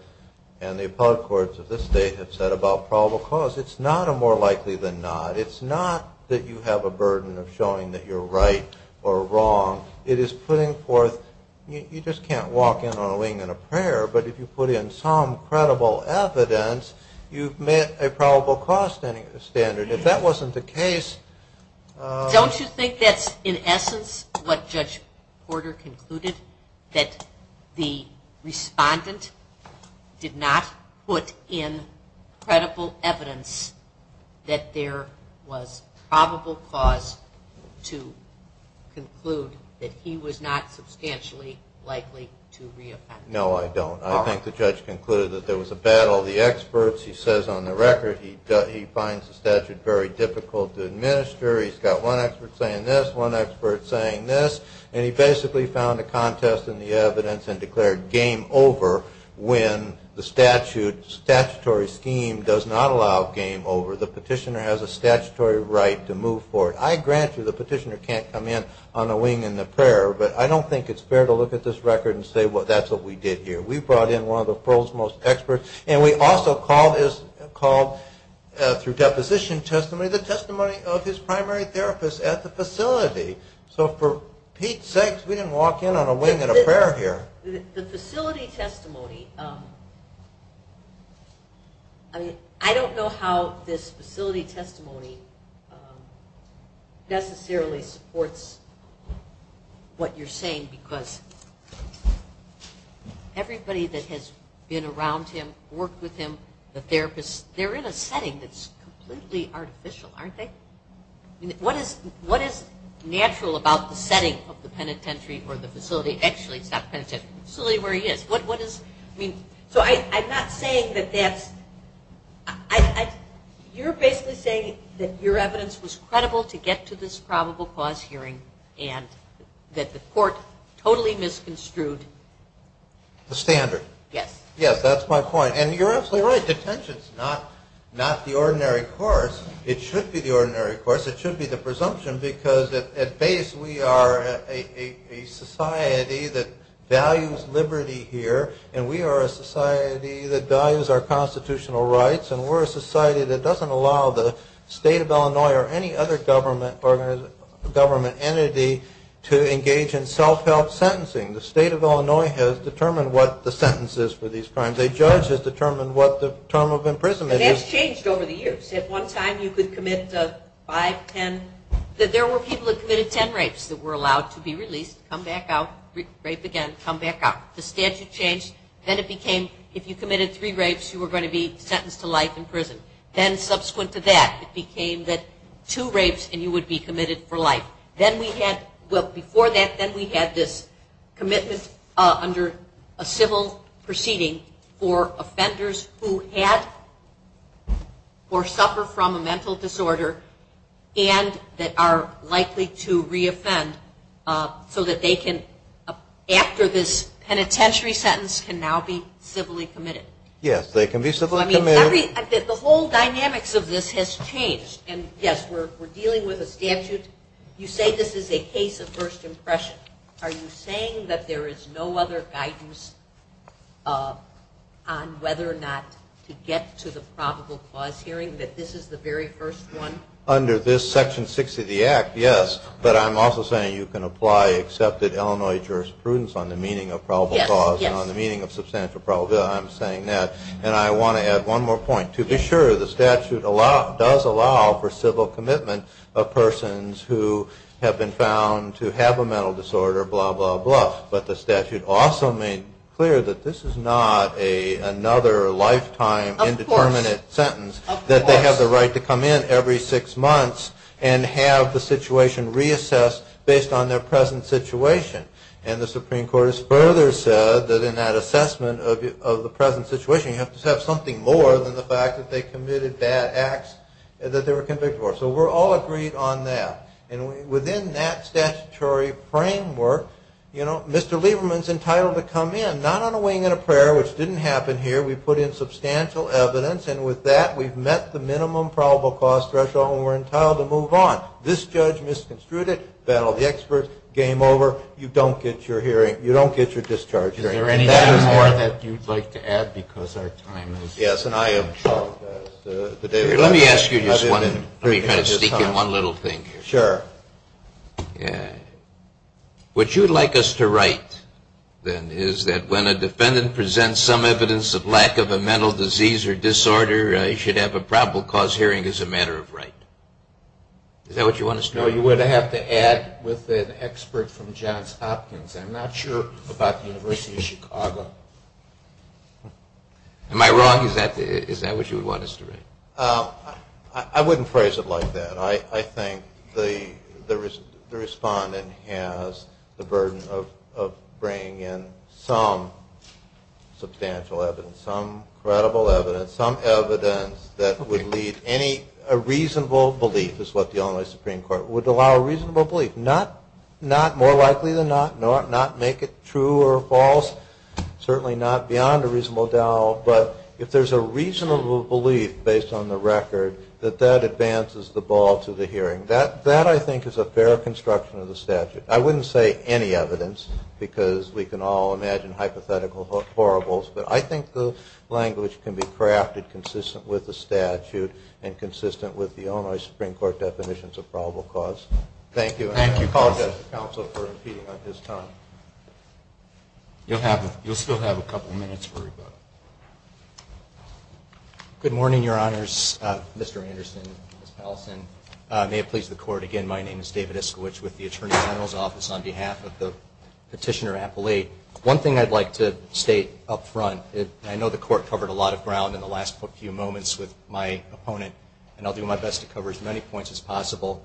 and the appellate courts of this state have said about probable cause. It's not a more likely than not. It's not that you have a burden of showing that you're right or wrong. It is putting forth, you just can't walk in on a wing and a prayer, but if you put in some credible evidence, you've met a probable cause standard. If that wasn't the case... No, I don't. I think the judge concluded that there was a battle of the experts. He says on the record he finds the statute very difficult to administer. He's got one expert saying this, one expert saying this, and he basically found a contest in the evidence and declared game over when the statutory scheme does not allow game over. The petitioner has a statutory right to move forward. I grant you the petitioner can't come in on a wing and a prayer, but I don't think it's fair to look at this record and say, well, that's what we did here. We brought in one of the world's most experts, and we also called, through deposition testimony, so for Pete's sakes, we didn't walk in on a wing and a prayer here. The facility testimony... I don't know how this facility testimony necessarily supports what you're saying, because everybody that has been around him, worked with him, the therapists, they're in a setting that's completely artificial, aren't they? What is natural about the setting of the penitentiary or the facility? Actually, it's not the penitentiary, it's the facility where he is. So I'm not saying that that's... You're basically saying that your evidence was credible to get to this probable cause hearing and that the court totally misconstrued... The standard. Yes, that's my point, and you're absolutely right. Detention's not the ordinary course. It should be the ordinary course. It should be the presumption, because at base, we are a society that values liberty here, and we are a society that values our constitutional rights, and we're a society that doesn't allow the state of Illinois or any other government entity to engage in self-help sentencing. The state of Illinois has determined what the sentence is for these crimes. A judge has determined what the term of imprisonment is. And that's changed over the years. At one time, you could commit five, ten... There were people that committed ten rapes that were allowed to be released, come back out, rape again, come back out. The statute changed. Then it became, if you committed three rapes, you were going to be sentenced to life in prison. Then subsequent to that, it became that two rapes and you would be committed for life. Then we had... Well, before that, then we had this commitment under a civil proceeding for offenders who had or suffer from a mental disorder and that are likely to re-offend so that they can, after this penitentiary sentence, can now be civilly committed. Yes, they can be civilly committed. The whole dynamics of this has changed, and yes, we're dealing with a statute. You say this is a case of first impression. Are you saying that there is no other guidance on whether or not to get to the probable cause hearing, that this is the very first one? Under this Section 60 of the Act, yes. But I'm also saying you can apply accepted Illinois jurisprudence on the meaning of probable cause and on the meaning of substantial probability. I'm saying that. And I want to add one more point. To be sure, the statute does allow for civil commitment of persons who have been found to have a mental disorder, blah, blah, blah. But the statute also made clear that this is not another lifetime indeterminate sentence, that they have the right to come in every six months and have the situation reassessed based on their present situation. And the Supreme Court has further said that in that assessment of the present situation, you have to have something more than the fact that they committed bad acts that they were convicted for. So we're all agreed on that. And within that statutory framework, you know, Mr. Lieberman's entitled to come in, not on a wing and a prayer, which didn't happen here. We put in substantial evidence. And with that, we've met the minimum probable cause threshold, and we're entitled to move on. This judge misconstrued it, battled the experts, game over. You don't get your hearing. You don't get your discharge hearing. Is there anything more that you'd like to add? Let me ask you just one thing. Sure. What you'd like us to write, then, is that when a defendant presents some evidence of lack of a mental disease or disorder, he should have a probable cause hearing as a matter of right. Is that what you want us to write? No, you would have to add with an expert from Johns Hopkins. I'm not sure about the University of Chicago. Am I wrong? Is that what you would want us to write? I wouldn't phrase it like that. I think the respondent has the burden of bringing in some substantial evidence, some credible evidence, some evidence that would lead any reasonable belief, is what the Illinois Supreme Court would allow a reasonable belief. Not more likely than not, not make it true or false, certainly not beyond a reasonable doubt. But if there's a reasonable belief, based on the record, that that advances the ball to the hearing. That, I think, is a fair construction of the statute. I wouldn't say any evidence, because we can all imagine hypothetical horribles, but I think the language can be crafted consistent with the statute and consistent with the Illinois Supreme Court definitions of probable cause. Thank you. You'll still have a couple minutes for rebuttal. Good morning, Your Honors. Mr. Anderson, Ms. Powelson. May it please the Court, again, my name is David Iskowitz with the Attorney General's Office on behalf of the petitioner appellate. One thing I'd like to state up front, I know the Court covered a lot of ground in the last few moments with my opponent, and I'll do my best to cover as many points as possible.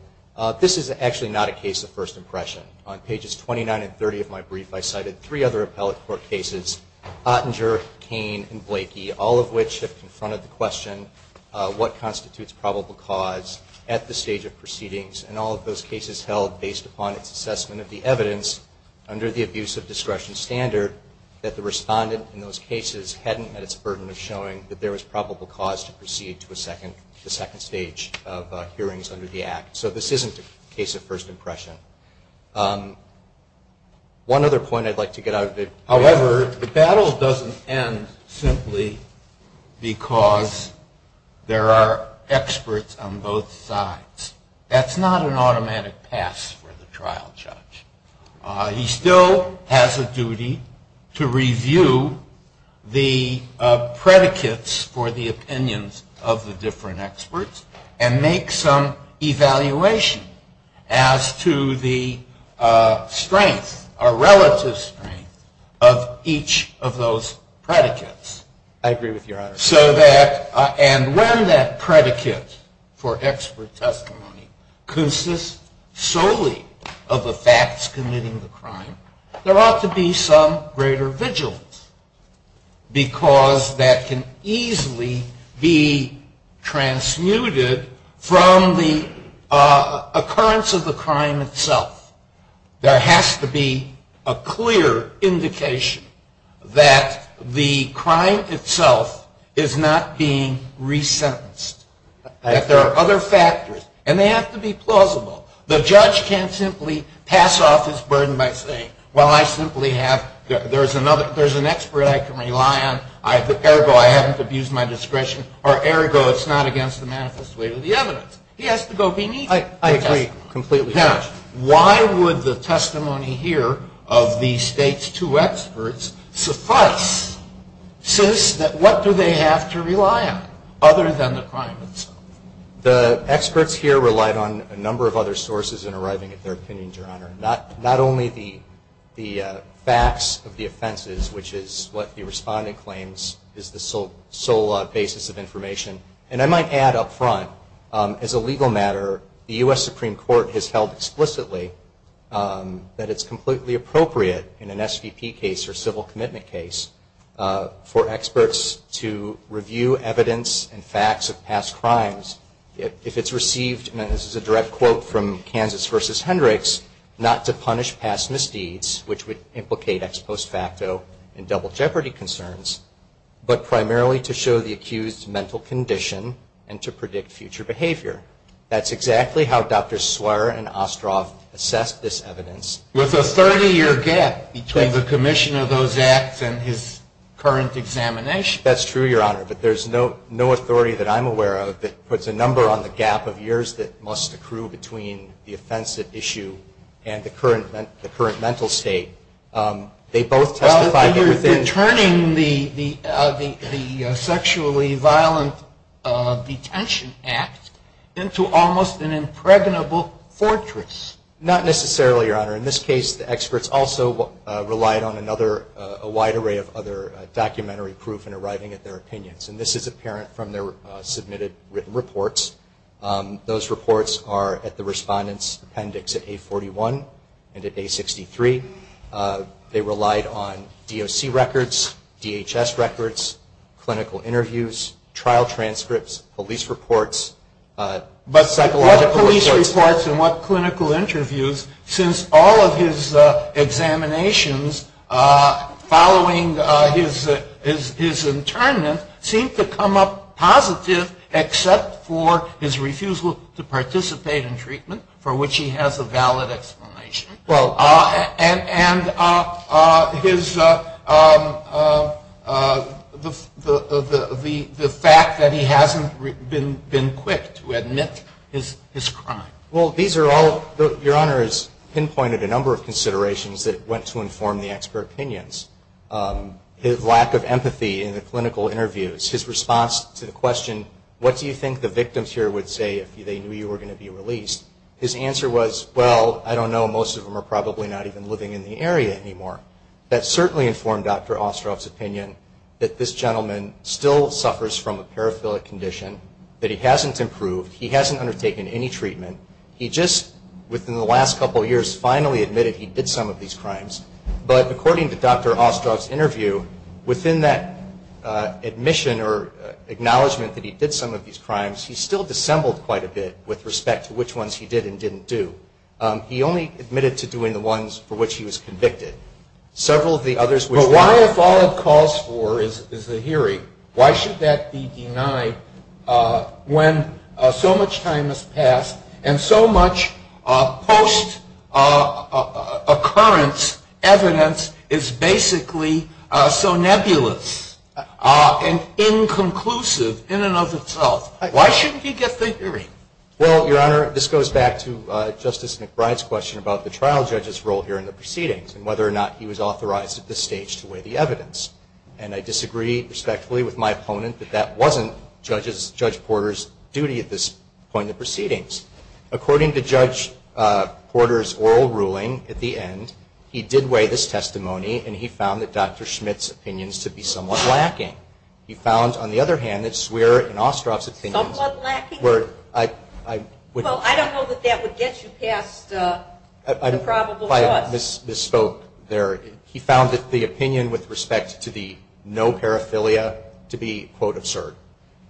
This is actually not a case of first impression. On pages 29 and 30 of my brief, I cited three other appellate court cases, Ottinger, Cain, and Blakey, all of which have confronted the question what constitutes probable cause at the stage of proceedings, and all of those cases held based upon its assessment of the evidence under the abuse of discretion standard that the respondent in those cases hadn't had its burden of showing that there was probable cause to proceed to the second stage of hearings under the Act. So this isn't a case of first impression. One other point I'd like to get out of it. However, the battle doesn't end simply because there are experts on both sides. That's not an automatic pass for the trial judge. He still has a duty to review the predicates for the opinions of the different experts and make some evaluation as to the strength, or relative strength, of each of those predicates. And when that predicate for expert testimony consists solely of the facts committing the crime, there ought to be some greater vigilance, because that can easily be transmuted from the occurrence of the crime itself. There has to be a clear indication that the crime itself is not being resentenced, that there are other factors, and they have to be plausible. The judge can't simply pass off his burden by saying, well, I simply have, there's an expert I can rely on, ergo I haven't abused my discretion, or ergo it's not against the manifest weight of the evidence. He has to go beneath the testimony. Why would the testimony here of the State's two experts suffice, since what do they have to rely on other than the crime itself? The experts here relied on a number of other sources in arriving at their opinions, Your Honor, not only the facts of the offenses, which is what the respondent claims is the sole basis of information. And I might add up front, as a legal matter, the U.S. Supreme Court has held explicitly that it's completely appropriate in an SVP case or civil commitment case for experts to review evidence and facts of past crimes. If it's received, and this is a direct quote from Kansas v. Hendricks, not to punish past misdeeds, which would implicate ex post facto in double jeopardy concerns, but primarily to show the accused's mental condition and to predict future behavior. That's exactly how Dr. Swearer and Ostroff assessed this evidence. With a 30-year gap between the commission of those acts and his current examination. That's true, Your Honor, but there's no authority that I'm aware of that puts a number on the gap of years that must accrue between the offensive issue and the current mental state. They both testified that within You're turning the sexually violent detention act into almost an impregnable fortress. Not necessarily, Your Honor. In this case, the experts also relied on a wide array of other documentary proof in arriving at their opinions, and this is apparent from their submitted written reports. Those reports are at the respondent's appendix at A41 and at A63. They relied on DOC records, DHS records, clinical interviews, trial transcripts, police reports, psychological reports. Police reports and what clinical interviews, since all of his examinations following his internment seemed to come up positive, except for his refusal to participate in treatment, for which he has a valid explanation. And the fact that he hasn't been quick to admit his crime. Well, Your Honor has pinpointed a number of considerations that went to inform the expert opinions. His lack of empathy in the clinical interviews, his response to the question, what do you think the victims here would say if they knew you were going to be released? His answer was, well, I don't know, most of them are probably not even living in the area anymore. That certainly informed Dr. Ostrov's opinion that this gentleman still suffers from a paraphilic condition, that he hasn't improved, he hasn't undertaken any treatment. He just, within the last couple of years, finally admitted he did some of these crimes. But according to Dr. Ostrov's interview, within that admission or acknowledgement that he did some of these crimes, he still dissembled quite a bit with respect to which ones he did and didn't do. He only admitted to doing the ones for which he was convicted. But why, if all it calls for is the hearing, why should that be denied when so much time has passed and so much post-occurrence evidence is basically so nebulous and inconclusive, in and of itself, why shouldn't he get the hearing? Well, Your Honor, this goes back to Justice McBride's question about the trial judge's role here in the proceedings and whether or not he was authorized at this stage to weigh the evidence. And I disagree respectfully with my opponent that that wasn't Judge Porter's duty at this point in the proceedings. According to Judge Porter's oral ruling at the end, he did weigh this testimony and he found that Dr. Schmitt's opinions to be somewhat lacking. He found, on the other hand, that Swearer and Ostrov's opinions were... Well, I don't know that that would get you past the probable cause. He found that the opinion with respect to the no paraphilia to be, quote, absurd.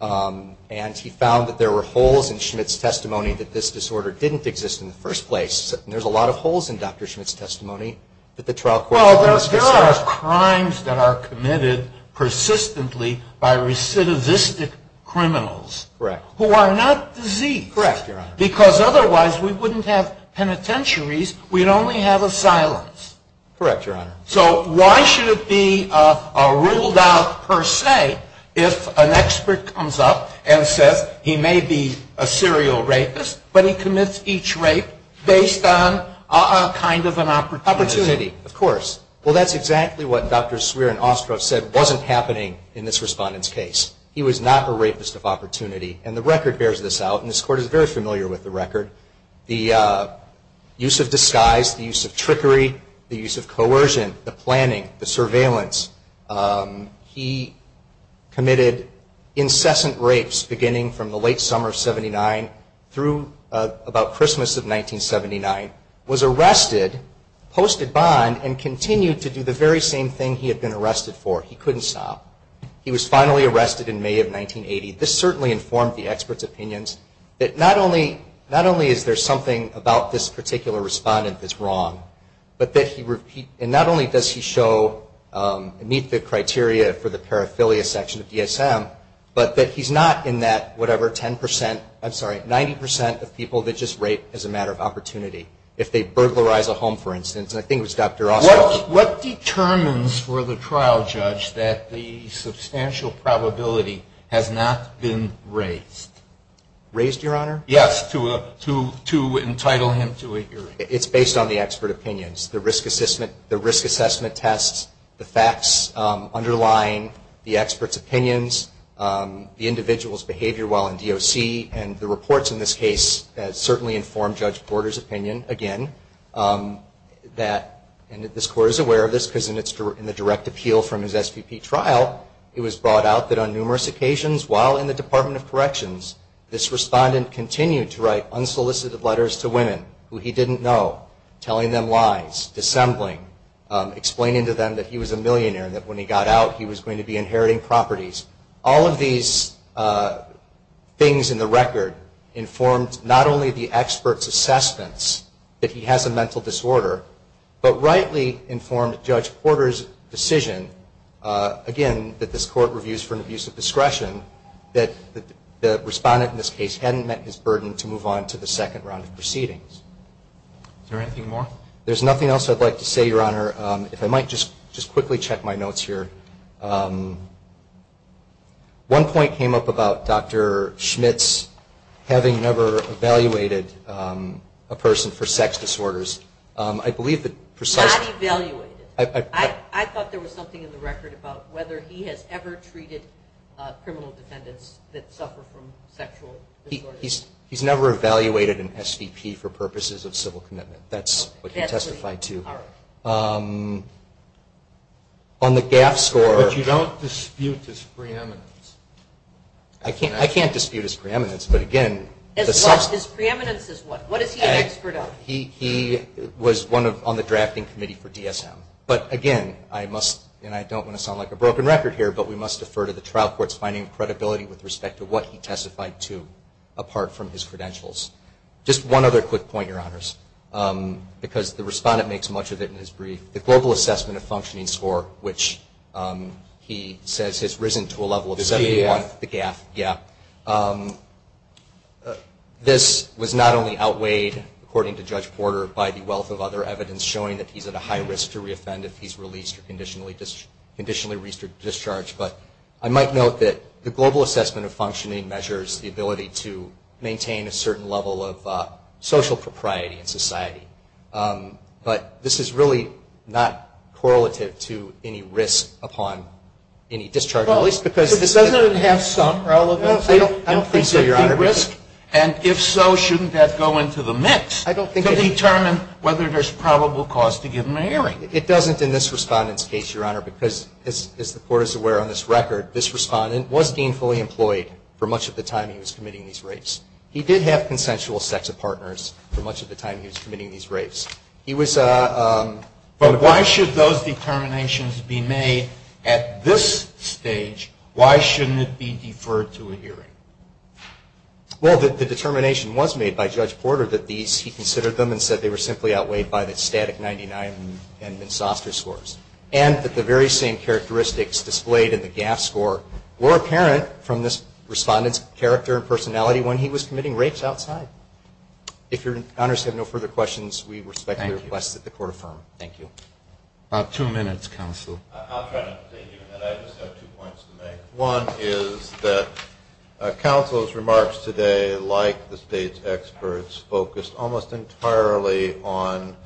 And he found that there were holes in Schmitt's testimony that this disorder didn't exist in the first place. And there's a lot of holes in Dr. Schmitt's testimony that the trial court... Well, there are crimes that are committed persistently by recidivistic criminals who are not diseased. Correct, Your Honor. Because otherwise we wouldn't have penitentiaries, we'd only have asylums. Correct, Your Honor. So why should it be ruled out per se if an expert comes up and says he may be a serial rapist, but he commits each rape based on kind of an opportunity? Opportunity, of course. Well, that's exactly what Dr. Swearer and Ostrov said wasn't happening in this respondent's case. He was not a rapist of opportunity. And the record bears this out. And this Court is very familiar with the record. The use of disguise, the use of trickery, the use of coercion, the planning, the surveillance. He committed incessant rapes beginning from the late summer of 79 through about Christmas of 1979, was arrested, posted bond, and continued to do the very same thing he had been arrested for. He couldn't stop. He was finally arrested in May of 1980. This certainly informed the expert's opinions that not only is there something about this particular respondent that's wrong, and not only does he meet the criteria for the paraphilia section of DSM, but that he's not in that whatever 10 percent, I'm sorry, 90 percent of people that just rape as a matter of opportunity. If they burglarize a home, for instance, and I think it was Dr. Ostrov. What determines for the trial judge that the substantial probability has not been raised? Raised, Your Honor? Yes, to entitle him to a hearing. It's based on the expert opinions. The risk assessment tests, the facts underlying the expert's opinions, the individual's behavior while in DOC, and the reports in this case certainly informed Judge Porter's opinion again that, and this Court is aware of this because in the direct appeal from his SVP trial, it was brought out that on numerous occasions while in the Department of Corrections, this respondent continued to write unsolicited letters to women who he didn't know, telling them lies, dissembling, explaining to them that he was a millionaire and that when he got out, he was going to be inheriting properties. All of these things in the record informed not only the expert's assessments that he has a mental disorder, but rightly informed Judge Porter's decision, again, that this Court reviews for an abuse of discretion, that the respondent in this case hadn't met his burden to move on to the second round of proceedings. Is there anything more? There's nothing else I'd like to say, Your Honor. One point came up about Dr. Schmitz having never evaluated a person for sex disorders. Not evaluated. I thought there was something in the record about whether he has ever treated criminal defendants that suffer from sexual disorders. He's never evaluated an SVP for purposes of civil commitment. That's what he testified to. But you don't dispute his preeminence. I can't dispute his preeminence, but again... His preeminence is what? What is he an expert of? He was on the drafting committee for DSM. But again, and I don't want to sound like a broken record here, but we must defer to the trial court's finding of credibility with respect to what he testified to, the GAF. This was not only outweighed, according to Judge Porter, by the wealth of other evidence showing that he's at a high risk to reoffend if he's released or conditionally discharged, but I might note that the global assessment of functioning measures the ability to maintain a certain level of social propriety in society. But this is really not correlative to any risk upon any discharge, at least because... Doesn't it have some relevance? I don't think so, Your Honor. And if so, shouldn't that go into the mix to determine whether there's probable cause to give him an hearing? It doesn't in this Respondent's case, Your Honor, because as the Court is aware on this record, this Respondent was deemed fully employed for much of the time he was committing these rapes. He did have consensual sex partners for much of the time he was committing these rapes. He was... But why should those determinations be made at this stage? Why shouldn't it be deferred to a hearing? Well, the determination was made by Judge Porter that these, he considered them and said they were simply outweighed by the static 99 and Minsoster scores. And that the very same characteristics displayed in the GAF score were apparent from this Respondent's character and personality when he was committing rapes outside. If Your Honors have no further questions, we respectfully request that the Court affirm. About two minutes, Counsel. One is that Counsel's remarks today, like the State's experts, focused almost entirely on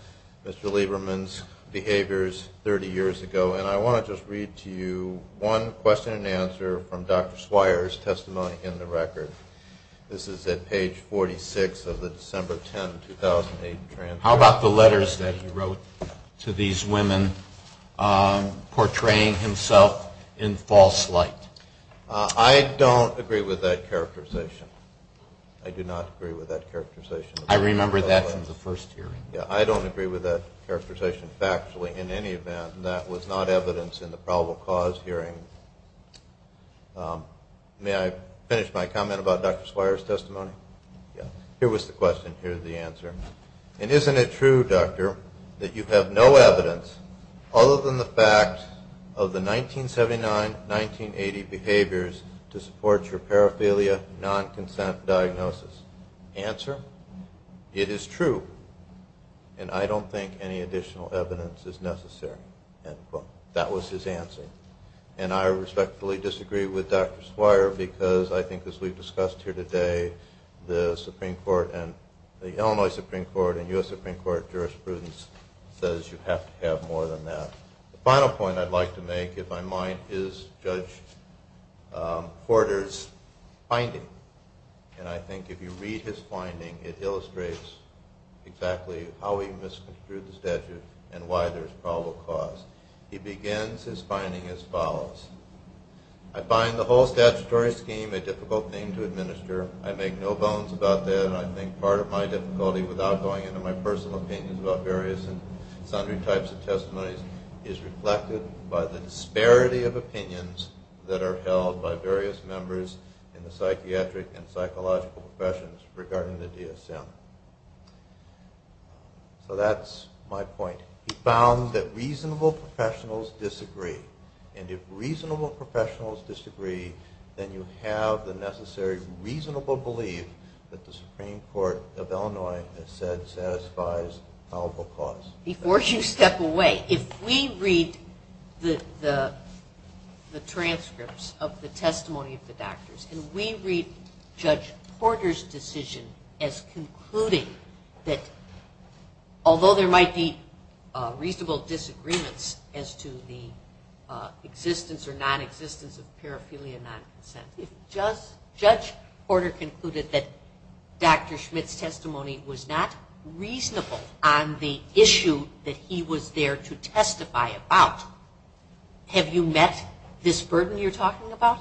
Mr. Lieberman's behaviors 30 years ago. And I want to just read to you one question and answer from Dr. Swire's testimony in the record. This is at page 46 of the December 10, 2008 transcript. How about the letters that he wrote to these women portraying himself in false light? I don't agree with that characterization. I do not agree with that characterization. I remember that from the first hearing. Yeah, I don't agree with that characterization factually in any event. And that was not evidence in the probable cause hearing. May I finish my comment about Dr. Swire's testimony? Here was the question. Here is the answer. And isn't it true, Doctor, that you have no evidence other than the fact of the 1979-1980 behaviors to support your paraphilia non-consent diagnosis? Answer, it is true. And I don't think any additional evidence is necessary. That was his answer. And I respectfully disagree with Dr. Swire because I think as we've discussed here today, the Illinois Supreme Court and U.S. Supreme Court jurisprudence says you have to have more than that. The final point I'd like to make, if I might, is Judge Porter's finding. And I think if you read his finding, it illustrates exactly how he misconstrued the statute and why there is probable cause. He begins his finding as follows. I find the whole statutory scheme a difficult thing to administer. I make no bones about that. I think part of my difficulty without going into my personal opinions about various and sundry types of testimonies is reflected by the disparity of opinions that are held by various members in the psychiatric and psychological professions regarding the DSM. So that's my point. He found that reasonable professionals disagree. And if reasonable professionals disagree, then you have the necessary reasonable belief that the Supreme Court of Illinois has said satisfies probable cause. Before you step away, if we read the transcripts of the testimony of the doctors and we read Judge Porter's decision as concluding that although there might be reasonable disagreements as to the existence or nonexistence of parapilia non-consent, Judge Porter concluded that Dr. Schmidt's testimony was not reasonable on the issue that he was there to testify about. Have you met this burden you're talking about?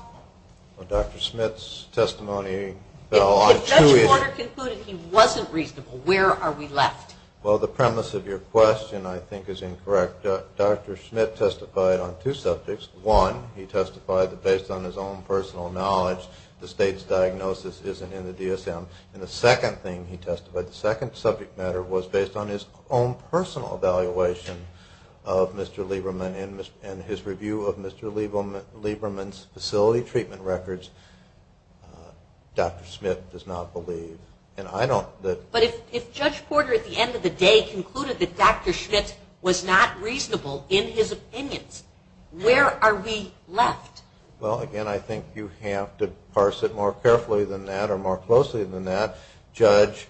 Well, Dr. Schmidt's testimony fell on two issues. If Judge Porter concluded he wasn't reasonable, where are we left? Well, the premise of your question I think is incorrect. Dr. Schmidt testified on two subjects. One, he testified that based on his own personal knowledge, the state's diagnosis isn't in the DSM. And the second thing he testified, the second subject matter was based on his own personal evaluation of Mr. Lieberman and his review of Mr. Lieberman's facility treatment records. Dr. Schmidt does not believe. But if Judge Porter at the end of the day concluded that Dr. Schmidt was not reasonable in his opinions, where are we left? Well, again, I think you have to parse it more carefully than that or more closely than that. Judge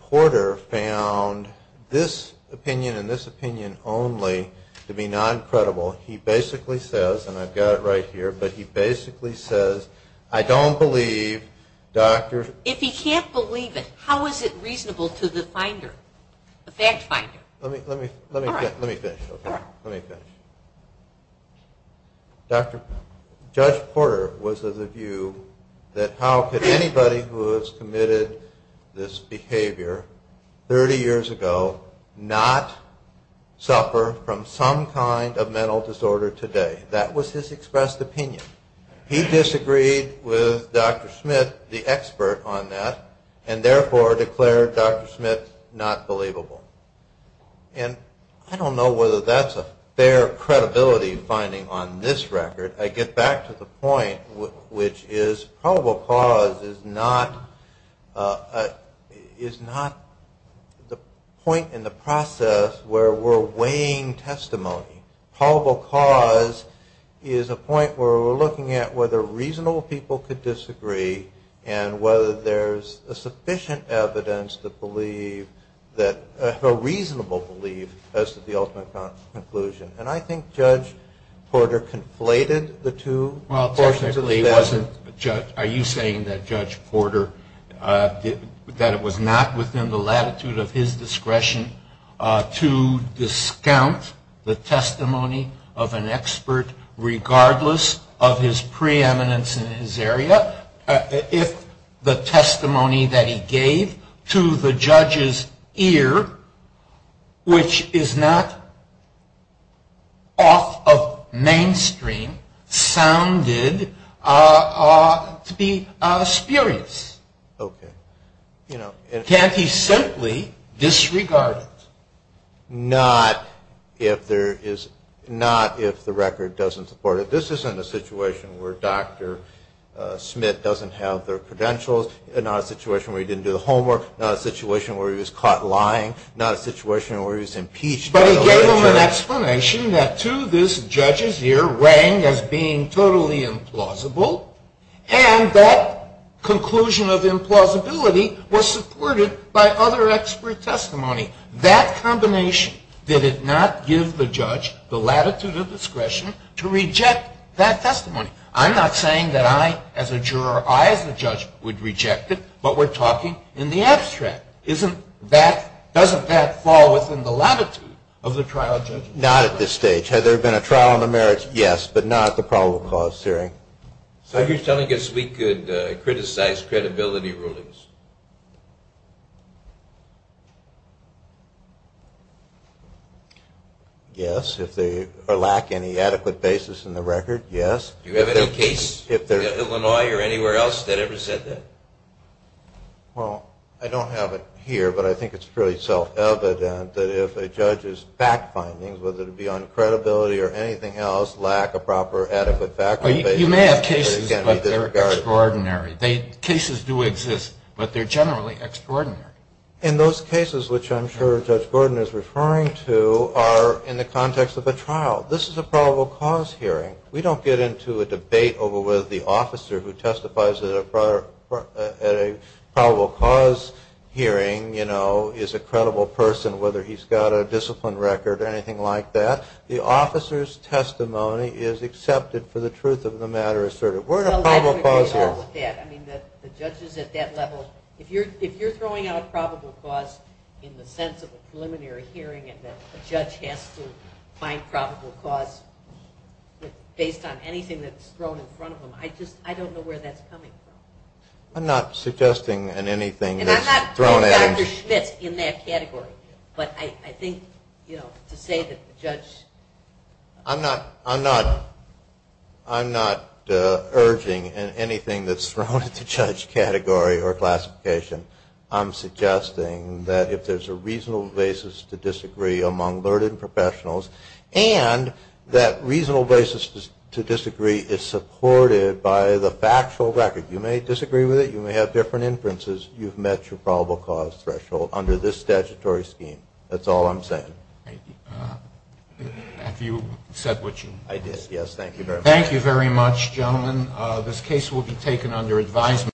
Porter found this opinion and this opinion only to be non-credible. He basically says, and I've got it right here, but he basically says, I don't believe Dr. If he can't believe it, how is it reasonable to the finder, the fact finder? Let me finish. Judge Porter was of the view that how could anybody who has committed this behavior 30 years ago not suffer from some kind of mental disorder today. That was his expressed opinion. He disagreed with Dr. Schmidt, the expert on that, and therefore declared Dr. Schmidt not believable. And I don't know whether that's a fair credibility finding on this record. I get back to the point, which is probable cause is not the point in the process where we're weighing testimony. Probable cause is a point where we're looking at whether reasonable people could disagree and whether there's a sufficient evidence to believe that, a reasonable belief as to the ultimate conclusion. And I think Judge Porter conflated the two. Are you saying that Judge Porter, that it was not within the latitude of his discretion to discount the testimony of an expert regardless of his preeminence in his area? If the testimony that he gave to the judge's ear, which is not off of mainstream, sounded to be spurious? Can't he simply disregard it? Not if the record doesn't support it. This isn't a situation where Dr. Schmidt doesn't have the credentials, not a situation where he didn't do the homework, not a situation where he was caught lying, not a situation where he was impeached. But he gave him an explanation that to this judge's ear rang as being totally implausible, and that conclusion of implausibility was supported by other expert testimony. That combination did not give the judge the latitude of discretion to reject that testimony. I'm not saying that I as a juror, I as a judge would reject it, but we're talking in the abstract. Doesn't that fall within the latitude of the trial judge? Not at this stage. Had there been a trial on the merits, yes, but not the probable cause hearing. So you're telling us we could criticize credibility rulings? Yes, if they lack any adequate basis in the record, yes. Do you have any case in Illinois or anywhere else that ever said that? Well, I don't have it here, but I think it's fairly self-evident that if a judge's fact findings, whether it be on credibility or anything else, lack a proper adequate factual basis, it can be disregarded. You may have cases, but they're extraordinary. Cases do exist, but they're generally extraordinary. And those cases, which I'm sure Judge Gordon is referring to, are in the context of a trial. This is a probable cause hearing. We don't get into a debate over whether the officer who testifies at a probable cause hearing is a credible person, whether he's got a discipline record or anything like that. The officer's testimony is accepted for the truth of the matter asserted. If you're throwing out probable cause in the sense of a preliminary hearing and that a judge has to find probable cause based on anything that's thrown in front of him, I don't know where that's coming from. I'm not suggesting anything that's thrown at him. I'm not urging anything that's thrown at the judge category or classification. I'm suggesting that if there's a reasonable basis to disagree among learned professionals and that reasonable basis to disagree is supported by the factual record. You may disagree with it. You may have different inferences. You've met your probable cause threshold under this statutory scheme. That's all I'm saying.